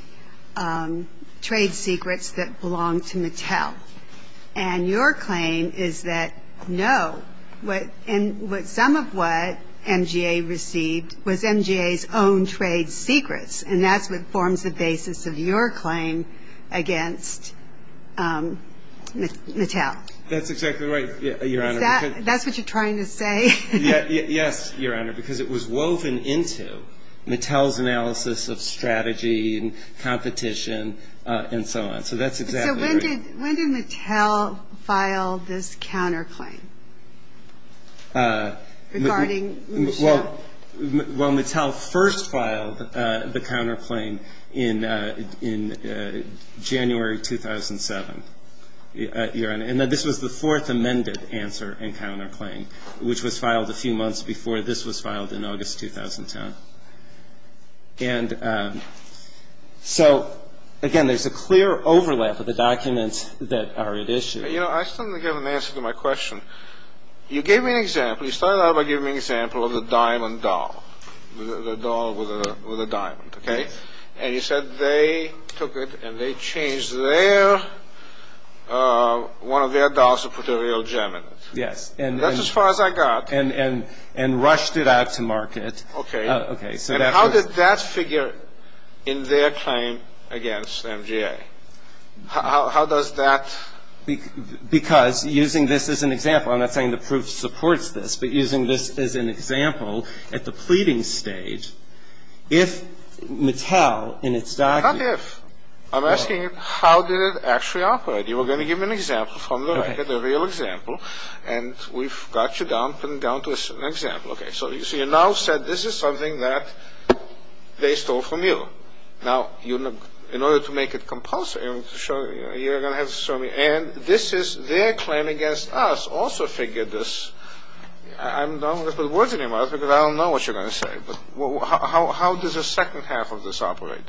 trade secrets that belonged to Mattel. And your claim is that no. Some of what MGA received was MGA's own trade secrets, and that's what forms the basis of your claim against Mattel. That's exactly right, Your Honor. Is that what you're trying to say? Yes, Your Honor, because it was woven into Mattel's analysis of strategy and competition and so on. So that's exactly right. So when did Mattel file this counterclaim? Regarding Mattel. Well, Mattel first filed the counterclaim in January 2007, Your Honor. And this was the fourth amended answer and counterclaim, which was filed a few months before this was filed in August 2010. And so, again, there's a clear overlap of the documents that are at issue. You know, I still haven't given an answer to my question. You gave me an example. You started out by giving me an example of the diamond doll, the doll with the diamond, okay? And you said they took it and they changed one of their dolls to put a real gem in it. Yes. That's as far as I got. And rushed it out to market. Okay. And how did that figure in their claim against MGA? How does that? Because using this as an example, and I'm not saying the proof supports this, but using this as an example at the pleading stage, if Mattel in its documents. Not if. I'm asking how did it actually operate. You were going to give me an example from the record, a real example, and we've got you down to an example. Okay. So you now said this is something that they stole from you. Now, in order to make it compulsory, you're going to have to show me. And this is their claim against us also figured this. I'm not going to put words in your mouth because I don't know what you're going to say. But how does the second half of this operate?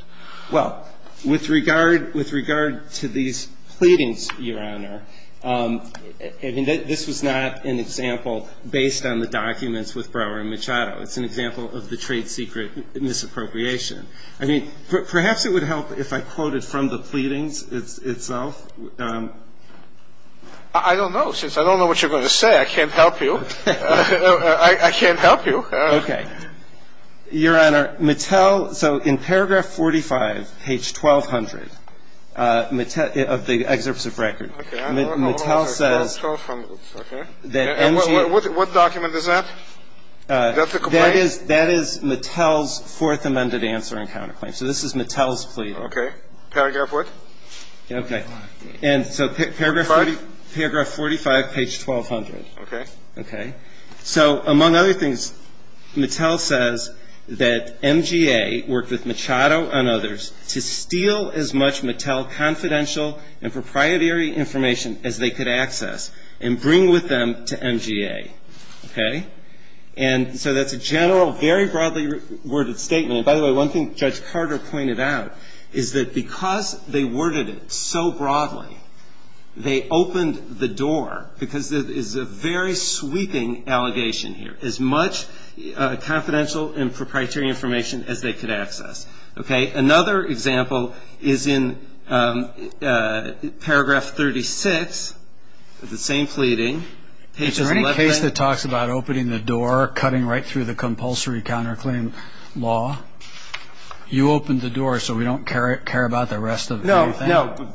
Well, with regard to these pleadings, Your Honor, this is not an example based on the documents with Brower and Machado. It's an example of the trade secret misappropriation. I mean, perhaps it would help if I quoted from the pleadings itself. I don't know. Since I don't know what you're going to say, I can't help you. I can't help you. Okay. Your Honor, Mattel. So in paragraph 45, page 1200, of the excerpts of records, Mattel says. Okay. What document is that? That's a complaint? That is Mattel's fourth amended answer in counterclaim. So this is Mattel's plea. Okay. Paragraph what? Okay. And so paragraph 45, page 1200. Okay. Okay. So among other things, Mattel says that MGA worked with Machado and others to steal as much Mattel confidential and proprietary information as they could access and bring with them to MGA. Okay. And so that's a general, very broadly worded statement. By the way, one thing Judge Carter pointed out is that because they worded it so broadly, they opened the door, because this is a very sweeping allegation here, as much confidential and proprietary information as they could access. Okay. Another example is in paragraph 36 of the same pleading. Is there any case that talks about opening the door, cutting right through the compulsory counterclaim law? You opened the door so we don't care about the rest of it. No.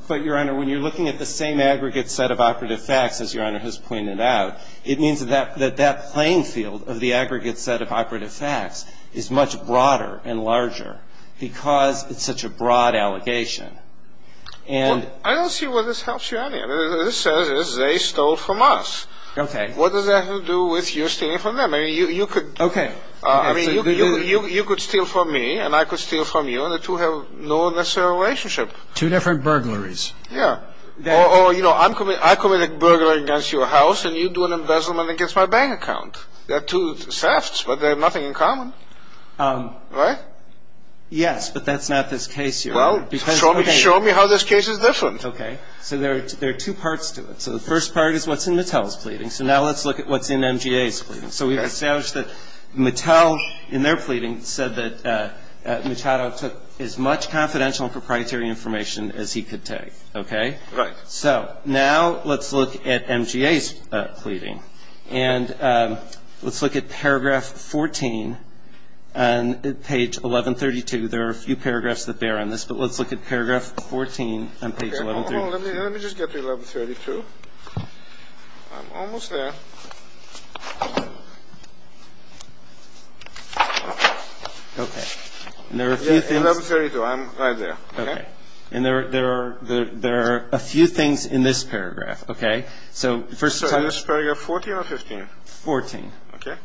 But, Your Honor, when you're looking at the same aggregate set of operative facts, as Your Honor has pointed out, it means that that playing field of the aggregate set of operative facts is much broader and larger because it's such a broad allegation. I don't see where this helps you, Your Honor. This says they stole from us. Okay. What does that have to do with you stealing from them? I mean, you could steal from me and I could steal from you, and the two have no necessary relationship. Two different burglaries. Yeah. Or, you know, I committed a burglary against your house and you do an embezzlement against my bank account. They're two thefts, but they have nothing in common. Yes, but that's not this case, Your Honor. Well, show me how this case is different. Okay. So there are two parts to it. So the first part is what's in Mattel's pleading. So now let's look at what's in MGA's pleading. So we've established that Mattel, in their pleading, said that Mattel took as much confidential and proprietary information as he could take. Okay? Right. So now let's look at MGA's pleading, and let's look at paragraph 14 on page 1132. There are a few paragraphs that bear on this, but let's look at paragraph 14 on page 1132. Okay, hold on. Let me just get to 1132. I'm almost there. Okay. 1132. I'm right there. Okay. And there are a few things in this paragraph. Okay? So first of all... So is this paragraph 14 or 15? 14. Okay.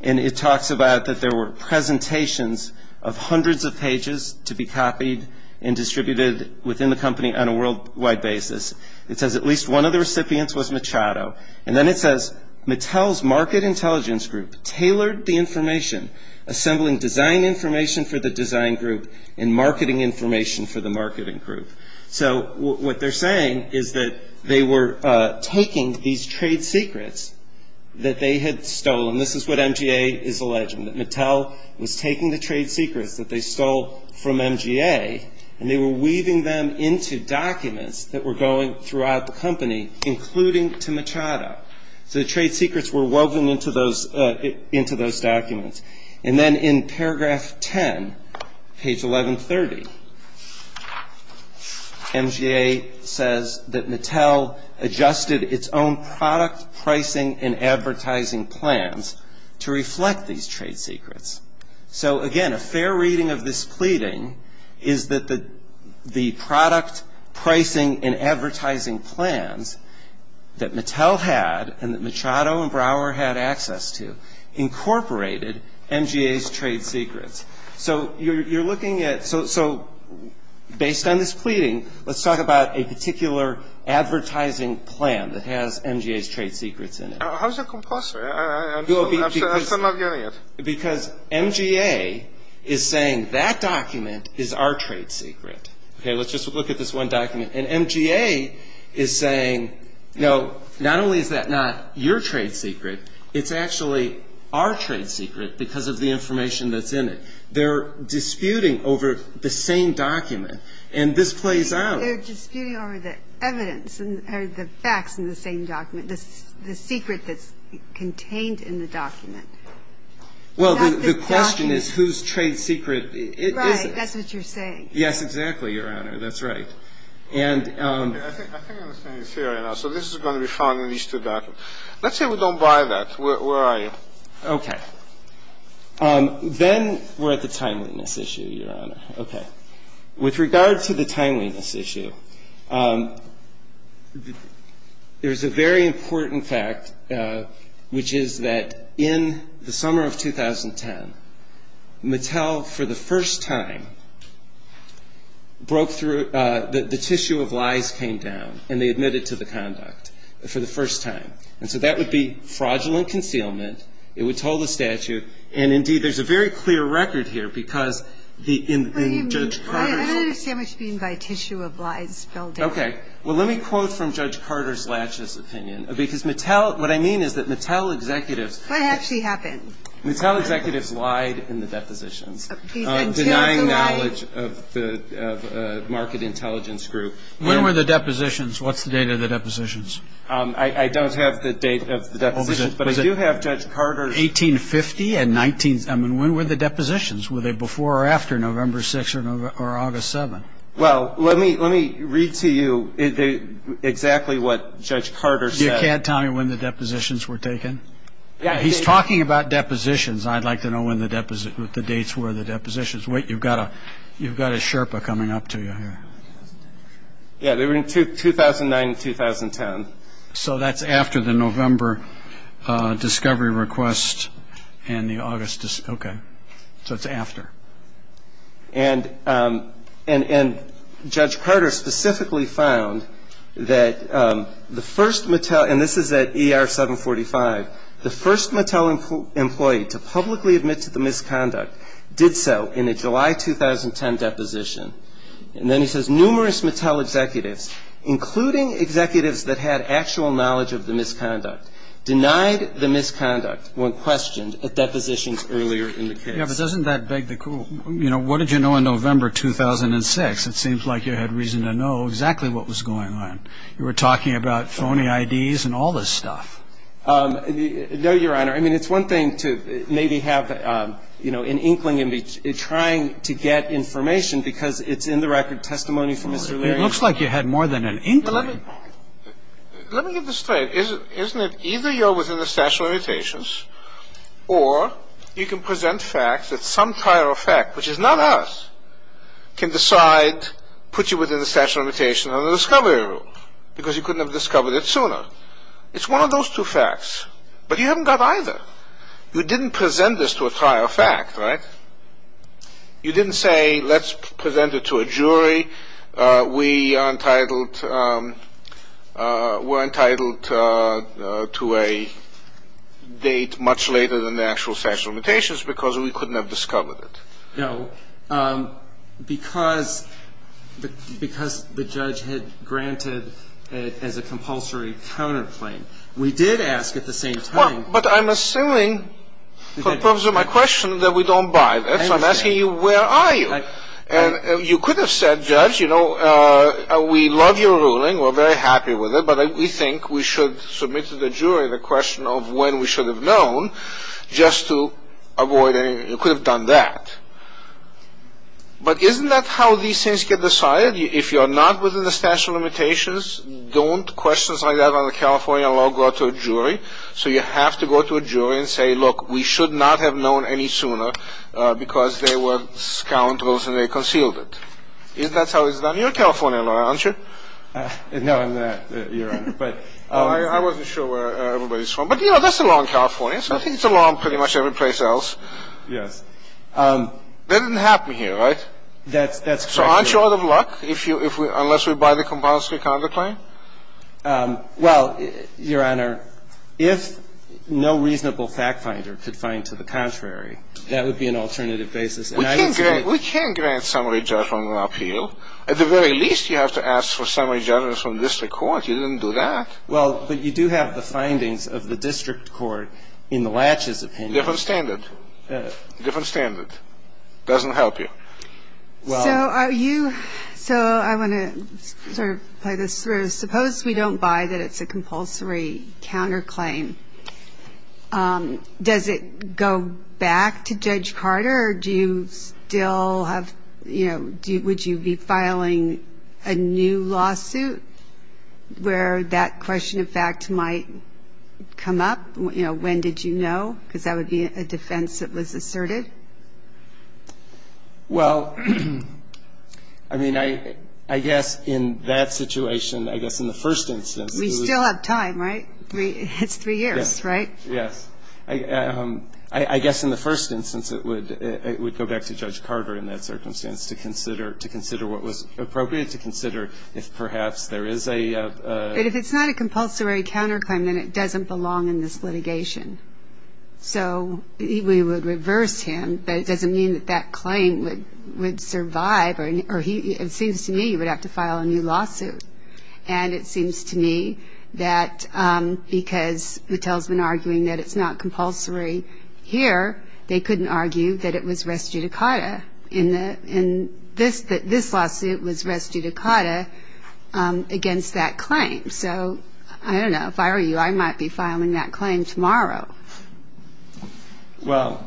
And it talks about that there were presentations of hundreds of pages to be copied and distributed within the company on a worldwide basis. It says at least one of the recipients was Machado, and then it says, Mattel's market intelligence group tailored the information, assembling design information for the design group and marketing information for the marketing group. So what they're saying is that they were taking these trade secrets that they had stolen. This is what MGA is alleging, that Mattel was taking the trade secrets that they stole from MGA, and they were weaving them into documents that were going throughout the company, including to Machado. So the trade secrets were woven into those documents. And then in paragraph 10, page 1130, MGA says that Mattel adjusted its own product pricing and advertising plans to reflect these trade secrets. So again, a fair reading of this pleading is that the product pricing and advertising plans that Mattel had and that Machado and Brouwer had access to incorporated MGA's trade secrets. So you're looking at – so based on this pleading, let's talk about a particular advertising plan that has MGA's trade secrets in it. How's it compulsory? I'm still not getting it. Because MGA is saying that document is our trade secret. Okay, let's just look at this one document. And MGA is saying, no, not only is that not your trade secret, it's actually our trade secret because of the information that's in it. They're disputing over the same document. And this plays out. They're disputing over the evidence and the facts in the same document, the secret that's contained in the document. Well, the question is whose trade secret is it. Right, that's what you're saying. Yes, exactly, Your Honor. That's right. I think I'm saying it fair enough. So this is going to be found in each of the documents. Let's say we don't buy that. Where are you? Okay. Then we're at the timeliness issue, Your Honor. Okay. With regard to the timeliness issue, there's a very important fact, which is that in the summer of 2010, Mattel, for the first time, broke through the tissue of lies came down, and they admitted to the conduct for the first time. And so that would be fraudulent concealment. It would hold a statute. And, indeed, there's a very clear record here because the judge – I don't understand what you mean by tissue of lies. Okay. Well, let me quote from Judge Carter's laches opinion. Because Mattel – what I mean is that Mattel executives – What actually happened? Mattel executives lied in the deposition, denying knowledge of the market intelligence group. When were the depositions? What's the date of the depositions? I don't have the date of the depositions, but I do have Judge Carter's – 1850 and 19 – I mean, when were the depositions? Were they before or after November 6th or August 7th? Well, let me read to you exactly what Judge Carter said. You can't tell me when the depositions were taken? He's talking about depositions. I'd like to know when the dates were of the depositions. Wait, you've got a Sherpa coming up to you here. Yeah, they were in 2009 and 2010. So that's after the November discovery request and the August – okay. So it's after. And Judge Carter specifically found that the first Mattel – and this is at ER 745 – the first Mattel employee to publicly admit to the misconduct did so in a July 2010 deposition. And then he says numerous Mattel executives, including executives that had actual knowledge of the misconduct, denied the misconduct when questioned at depositions earlier in the period. Yeah, but doesn't that beg the question, you know, what did you know in November 2006? It seems like you had reason to know exactly what was going on. You were talking about phony IDs and all this stuff. No, Your Honor. I mean, it's one thing to maybe have, you know, an inkling in trying to get information because it's in the record of testimony from Mr. Leary. It looks like you had more than an inkling. Let me get this straight. Your Honor, isn't it either you're within the statute of limitations or you can present facts that some prior effect, which is not us, can decide to put you within the statute of limitations under the discovery rule because you couldn't have discovered it sooner. It's one of those two facts. But you haven't got either. You didn't present this to a prior effect, right? You didn't say, let's present it to a jury. We were entitled to a date much later than the actual statute of limitations because we couldn't have discovered it. No, because the judge had granted it as a compulsory tenant claim. We did ask at the same time. But I'm assuming, for the purpose of my question, that we don't buy that. I'm asking you where are you. You could have said, judge, you know, we love your ruling. We're very happy with it, but we think we should submit to the jury the question of when we should have known just to avoid it. You could have done that. But isn't that how these things get decided? If you're not within the statute of limitations, don't questions like that on the California law go to a jury. So you have to go to a jury and say, look, we should not have known any sooner because they were scoundrels and they concealed it. That's how it's done. You're a California lawyer, aren't you? No, I'm not, Your Honor. I wasn't sure where everybody's from. But, you know, that's the law in California. I think it's the law in pretty much every place else. That didn't happen here, right? So aren't you out of luck unless we buy the compulsory tenant claim? Well, Your Honor, if no reasonable fact finder could find to the contrary, that would be an alternative basis. We can grant summary judgment on appeal. At the very least, you have to ask for summary judgment from district court. You didn't do that. Well, but you do have the findings of the district court in the Latches opinion. Different standard. Different standard. Doesn't help you. So I want to sort of play this through. Suppose we don't buy that it's a compulsory counterclaim. Does it go back to Judge Carter or do you still have, you know, would you be filing a new lawsuit where that question of fact might come up? You know, when did you know? Because that would be a defense that was asserted. Well, I mean, I guess in that situation, I guess in the first instance. We still have time, right? It's three years, right? Yes. I guess in the first instance, it would go back to Judge Carter in that circumstance to consider what was appropriate to consider if perhaps there is a... So we would reverse him. But it doesn't mean that that claim would survive. It seems to me he would have to file a new lawsuit. And it seems to me that because who tells an arguing that it's not compulsory here, they couldn't argue that it was res judicata. In this lawsuit, it was res judicata against that claim. So I don't know. If I were you, I might be filing that claim tomorrow. Well,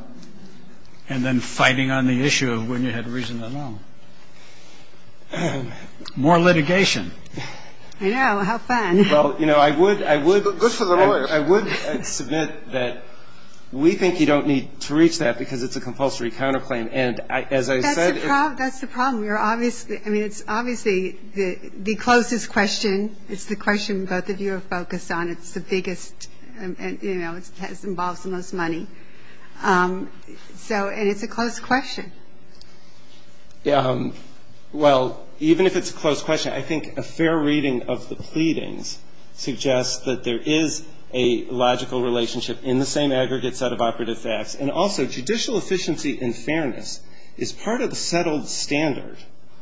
and then fighting on the issue of when you had reason at all. More litigation. I know. How fun. Well, you know, I would submit that we think you don't need to reach that because it's a compulsory counterclaim. And as I said... That's the problem. You're obviously... I mean, it's obviously the closest question is the question both of you are focused on. It's the biggest... And, you know, it has involved the most money. So... And it's a close question. Yeah. Well, even if it's a close question, I think a fair reading of the pleadings suggests that there is a logical relationship in the same aggregate set of operative facts. And also, judicial efficiency and fairness is part of the settled standard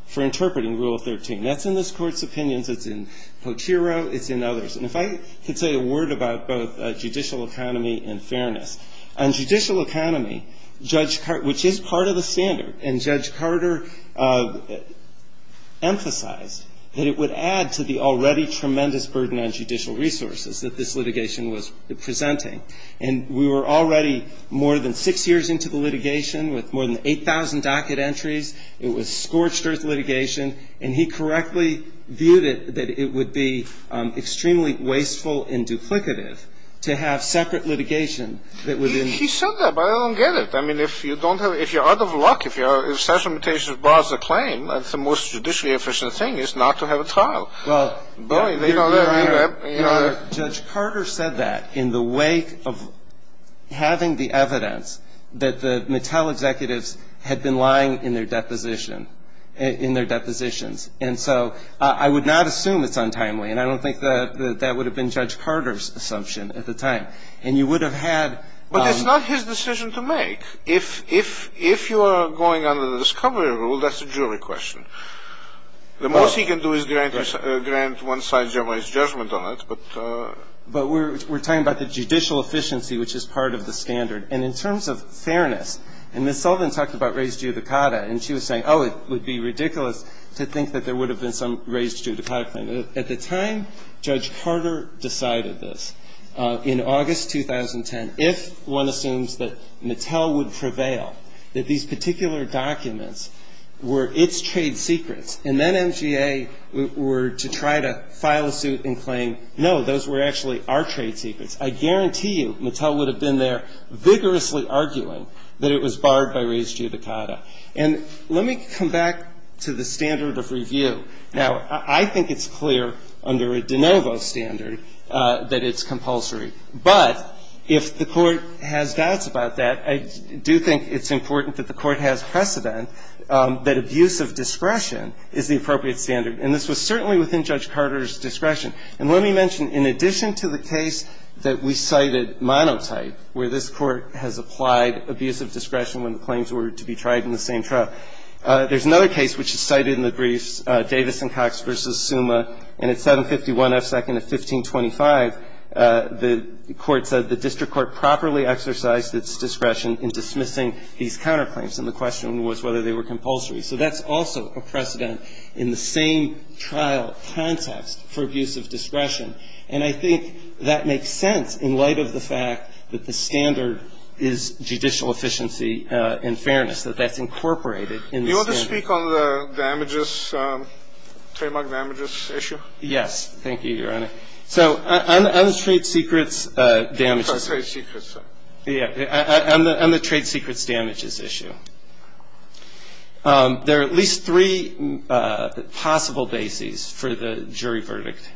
for interpreting Rule 13. That's in this Court's opinion. That's in Plotero. It's in others. And if I could say a word about both judicial economy and fairness. On judicial economy, Judge Carter... Which is part of the standard. And Judge Carter emphasized that it would add to the already tremendous burden on judicial resources that this litigation was presenting. And we were already more than six years into the litigation with more than 8,000 docket entries. It was scorched earth litigation. And he correctly viewed it that it would be extremely wasteful and duplicative to have separate litigation that would... He said that, but I don't get it. I mean, if you don't have... If you're out of luck... If you're... If such a mutation is brought as a claim, the most judicially efficient thing is not to have it filed. Well... Judge Carter said that in the wake of having the evidence that the Mattel executives had been lying in their depositions. And so I would not assume it's untimely. And I don't think that would have been Judge Carter's assumption at the time. And you would have had... But that's not his decision to make. If you are going under the discovery rule, that's a jury question. The most he can do is grant one-sided, generalized judgment on it, but... But we're talking about the judicial efficiency, which is part of the standard. And in terms of fairness... And Ms. Sullivan talked about raised judicata. And she was saying, oh, it would be ridiculous to think that there would have been some raised judicata claim. At the time, Judge Carter decided this. In August 2010, if one assumes that Mattel would prevail, that these particular documents were its trade secrets. And then NGA were to try to file a suit and claim, no, those were actually our trade secrets. I guarantee you Mattel would have been there vigorously arguing that it was barred by raised judicata. And let me come back to the standard of review. Now, I think it's clear under a de novo standard that it's compulsory. But if the court has doubts about that, I do think it's important that the court has precedent that abuse of discretion is the appropriate standard. And this was certainly within Judge Carter's discretion. And let me mention, in addition to the case that we cited, monocyte, where this court has applied abuse of discretion when the claims were to be tried in the same trial, there's another case which is cited in the brief, which is Davidson-Cox v. Suma. And it's 751 F. 2nd of 1525. The court said the district court properly exercised its discretion in dismissing these counterclaims. And the question was whether they were compulsory. So that's also a precedent in the same trial context for abuse of discretion. And I think that makes sense in light of the fact that that's incorporated in the standard. Do you want to speak on the trademark damages issue? Yes. Thank you, Your Honor. So on the trade secrets damages issue, there are at least three possible bases for the jury verdict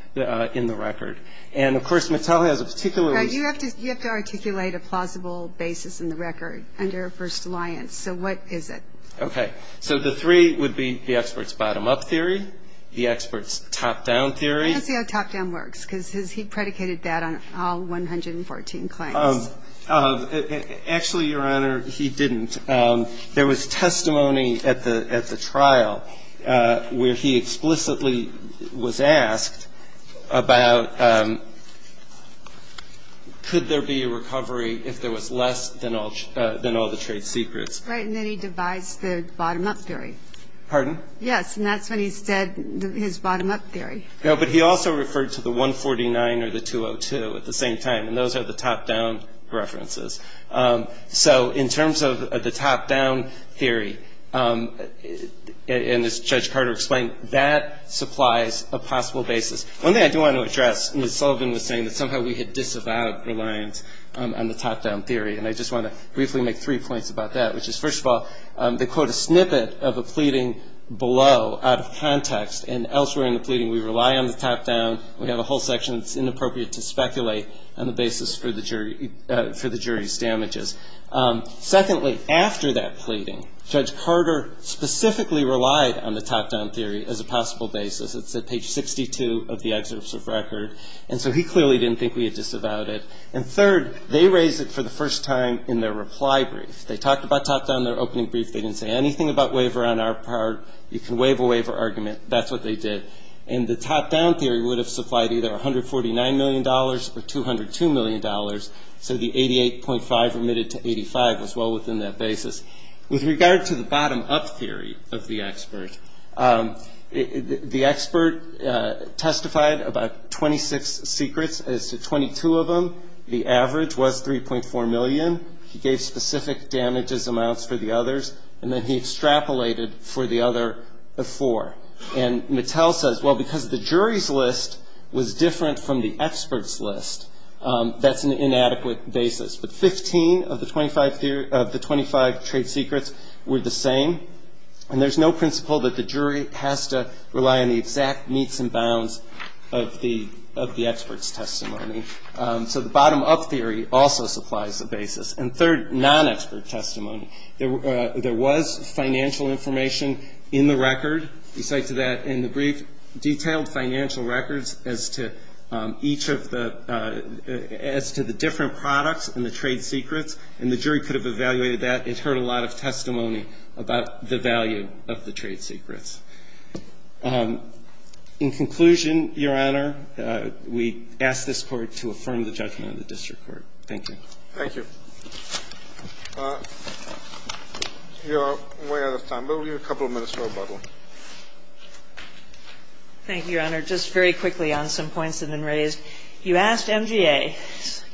in the record. And, of course, Mattel has a particular... You have to articulate a plausible basis in the record under First Alliance. So what is it? Okay. So the three would be the expert's bottom-up theory, the expert's top-down theory. I don't see how top-down works because he predicated that on all 114 claims. Actually, Your Honor, he didn't. There was testimony at the trial where he explicitly was asked about could there be a recovery if there was less than all the trade secrets. Right, and then he divides the bottom-up theory. Pardon? Yes, and that's what he said, his bottom-up theory. No, but he also referred to the 149 or the 202 at the same time, and those are the top-down references. So in terms of the top-down theory, and as Judge Carter explained, that supplies a possible basis. One thing I do want to address, Ms. Sullivan was saying that somehow we had disavowed Alliance on the top-down theory, and I just want to briefly make three points about that, which is, first of all, they quote a snippet of a pleading below out of context, and elsewhere in the pleading we rely on the top-down. We have a whole section that's inappropriate to speculate on the basis for the jury's damages. Secondly, after that pleading, Judge Carter specifically relied on the top-down theory as a possible basis. It's at page 62 of the exercise of record. And so he clearly didn't think we had disavowed it. And third, they raised it for the first time in their reply brief. They talked about top-down in their opening brief. They didn't say anything about waiver on our part. You can waive a waiver argument. That's what they did. And the top-down theory would have supplied either $149 million or $202 million, so the 88.5 remitted to 85 was well within that basis. With regard to the bottom-up theory of the expert, the expert testified about 26 secrets as to 22 of them. The average was $3.4 million. He gave specific damages amounts for the others, and then he extrapolated for the other four. And Mattel says, well, because the jury's list was different from the expert's list, that's an inadequate basis. But 15 of the 25 trade secrets were the same, and there's no principle that the jury has to rely on the exact meets and bounds of the expert's testimony. So the bottom-up theory also supplies the basis. And third, non-expert testimony. There was financial information in the record. He cited that in the brief. Detailed financial records as to each of the different products in the trade secrets, and the jury could have evaluated that. He's heard a lot of testimony about the value of the trade secrets. In conclusion, Your Honor, we ask this Court to affirm the judgment of the district court. Thank you. Thank you. We're out of time. We'll give you a couple of minutes for rebuttal. Thank you, Your Honor. Just very quickly on some points that have been raised. You asked MGA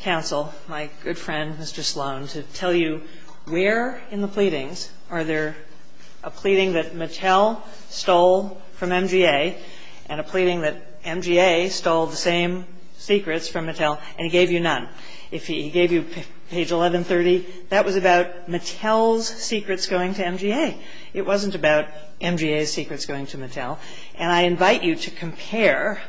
counsel, my good friend Mr. Sloan, to tell you where in the pleadings are there a pleading that Mattel stole from MGA and a pleading that MGA stole the same secrets from Mattel and he gave you none. If he gave you page 1130, that was about Mattel's secrets going to MGA. It wasn't about MGA's secrets going to Mattel. And I invite you to compare.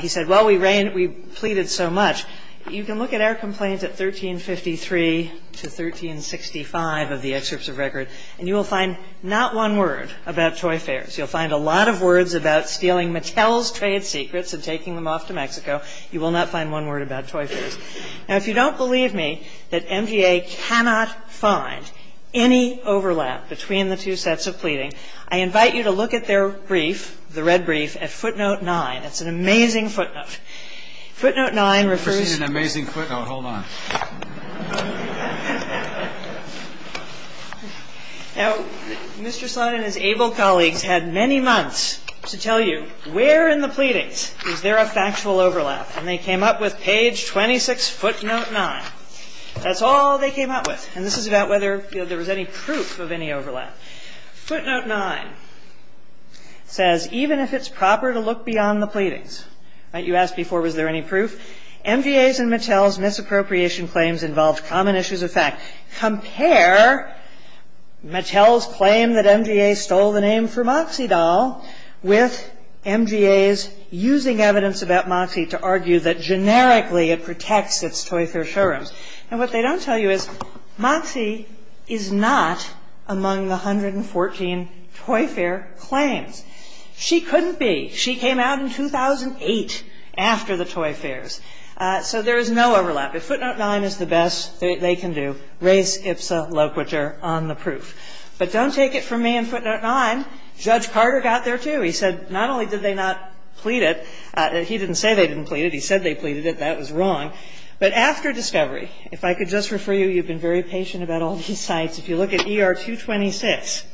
He said, well, we pleaded so much. You can look at our complaints at 1353 to 1365 of the excerpts of record and you will find not one word about toy fairs. You'll find a lot of words about stealing Mattel's trade secrets and taking them off to Mexico. You will not find one word about toy fairs. Now, if you don't believe me that MGA cannot find any overlap between the two sets of pleading, I invite you to look at their brief, the red brief, at footnote 9. It's an amazing footnote. Footnote 9 refers... It's an amazing footnote. Hold on. Now, Mr. Sloan and his able colleague had many months to tell you where in the pleadings is there a factual overlap and they came up with page 26, footnote 9. That's all they came up with. And this is about whether there was any proof of any overlap. Footnote 9 says, even if it's proper to look beyond the pleadings... You asked before was there any proof. MGA's and Mattel's misappropriation claims involved common issues of fact. Compare Mattel's claim that MGA stole the name from Moxie Doll with MGA's using evidence about Moxie to argue that generically it protects its toy fair showroom. And what they don't tell you is Moxie is not among the 114 toy fair claims. She couldn't be. She came out in 2008 after the toy fairs. So there's no overlap. Footnote 9 is the best they can do. Race, IPSA, love, which are on the proof. But don't take it from me in footnote 9. Judge Carter got there too. He said not only did they not plead it, he didn't say they didn't plead it, he said they pleaded it. That was wrong. But after discovery, if I could just refer you, you've been very patient about all these sites. If you look at ER 226,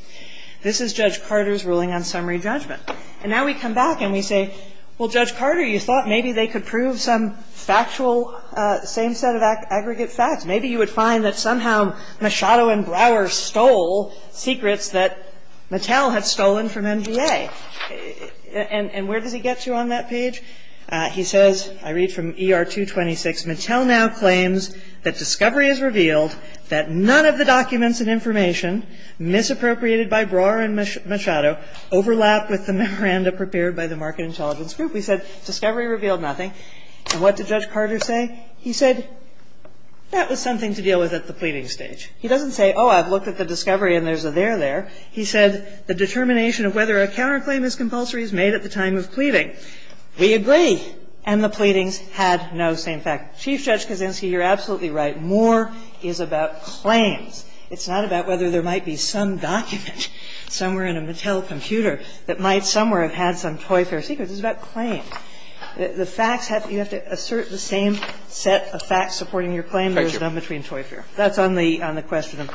this is Judge Carter's ruling on summary judgment. And now we come back and we say, well, Judge Carter, you thought maybe they could prove some factual, same set of aggregate facts. Maybe you would find that somehow Machado and Brower stole secrets that Mattel had stolen from MGA. And where did he get to on that page? He says, I read from ER 226, Mattel now claims that discovery has revealed that none of the documents and information misappropriated by Brower and Machado overlapped with the memoranda prepared by the market intelligence group. He said discovery revealed nothing. And what did Judge Carter say? He said that was something to deal with at the pleading stage. He doesn't say, oh, I've looked at the discovery and there's a there there. He said the determination of whether a counterclaim is compulsory is made at the time of pleading. We agree. And the pleading had no same facts. Chief Judge Kavinsky, you're absolutely right. More is about claims. It's not about whether there might be some document somewhere in a Mattel computer that might somewhere have had some Toy Fair secrets. It's about claims. The facts have to be, you have to assert the same set of facts supporting your claim. There's no between Toy Fair. That's only on the question of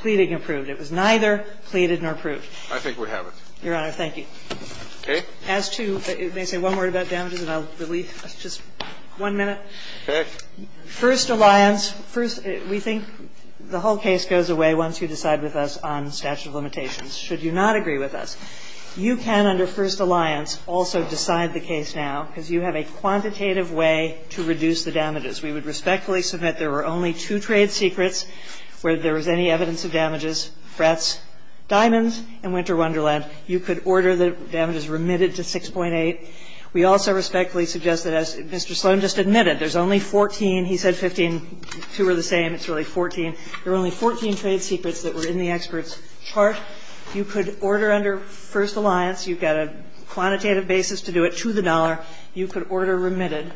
pleading approved. It was neither pleaded nor approved. I think we have it. Your Honor, thank you. Okay. As to, may I say one word about damages and I'll release, just one minute? Okay. First Alliance, we think the whole case goes away once you decide with us on statute of limitations. Should you not agree with us, you can under First Alliance also decide the case now because you have a quantitative way to reduce the damages. We would respectfully submit there were only two trade secrets where there was any evidence of damages, frets, diamonds, and Winter Wonderland. You could order the damages remitted to 6.8. We also respectfully suggest that as Mr. Sloan just admitted, there's only 14. He said 15. Two are the same. It's really 14. There were only 14 trade secrets that were in the expert's chart. You could order under First Alliance. You've got a quantitative basis to do it to the dollar. You could order remitted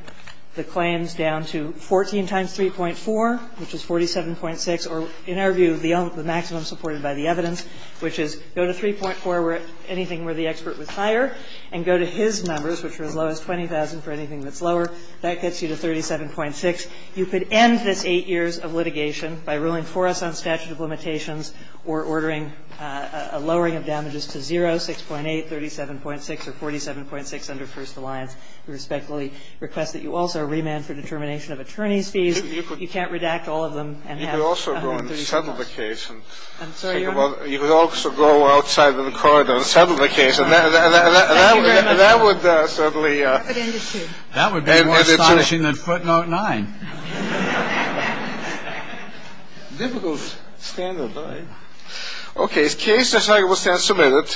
the claims down to 14 times 3.4, which is 47.6. Or in our view, the maximum supported by the evidence, which is go to 3.4 where anything where the expert was higher and go to his numbers, which are as low as 20,000 for anything that's lower. That gets you to 37.6. You could end the eight years of litigation by ruling for us on statute of limitations or ordering a lowering of damages to 0, 6.8, 37.6, or 47.6 under First Alliance. We respectfully request that you also remand for determination of attorney's fees. You can't redact all of them. You could also go on a summer vacation. I'm sorry? You could also go outside of the corridor on a summer vacation. And that would certainly… That would be more astonishing than footnote nine. Difficult standard, right? Okay, the case is arguably submitted.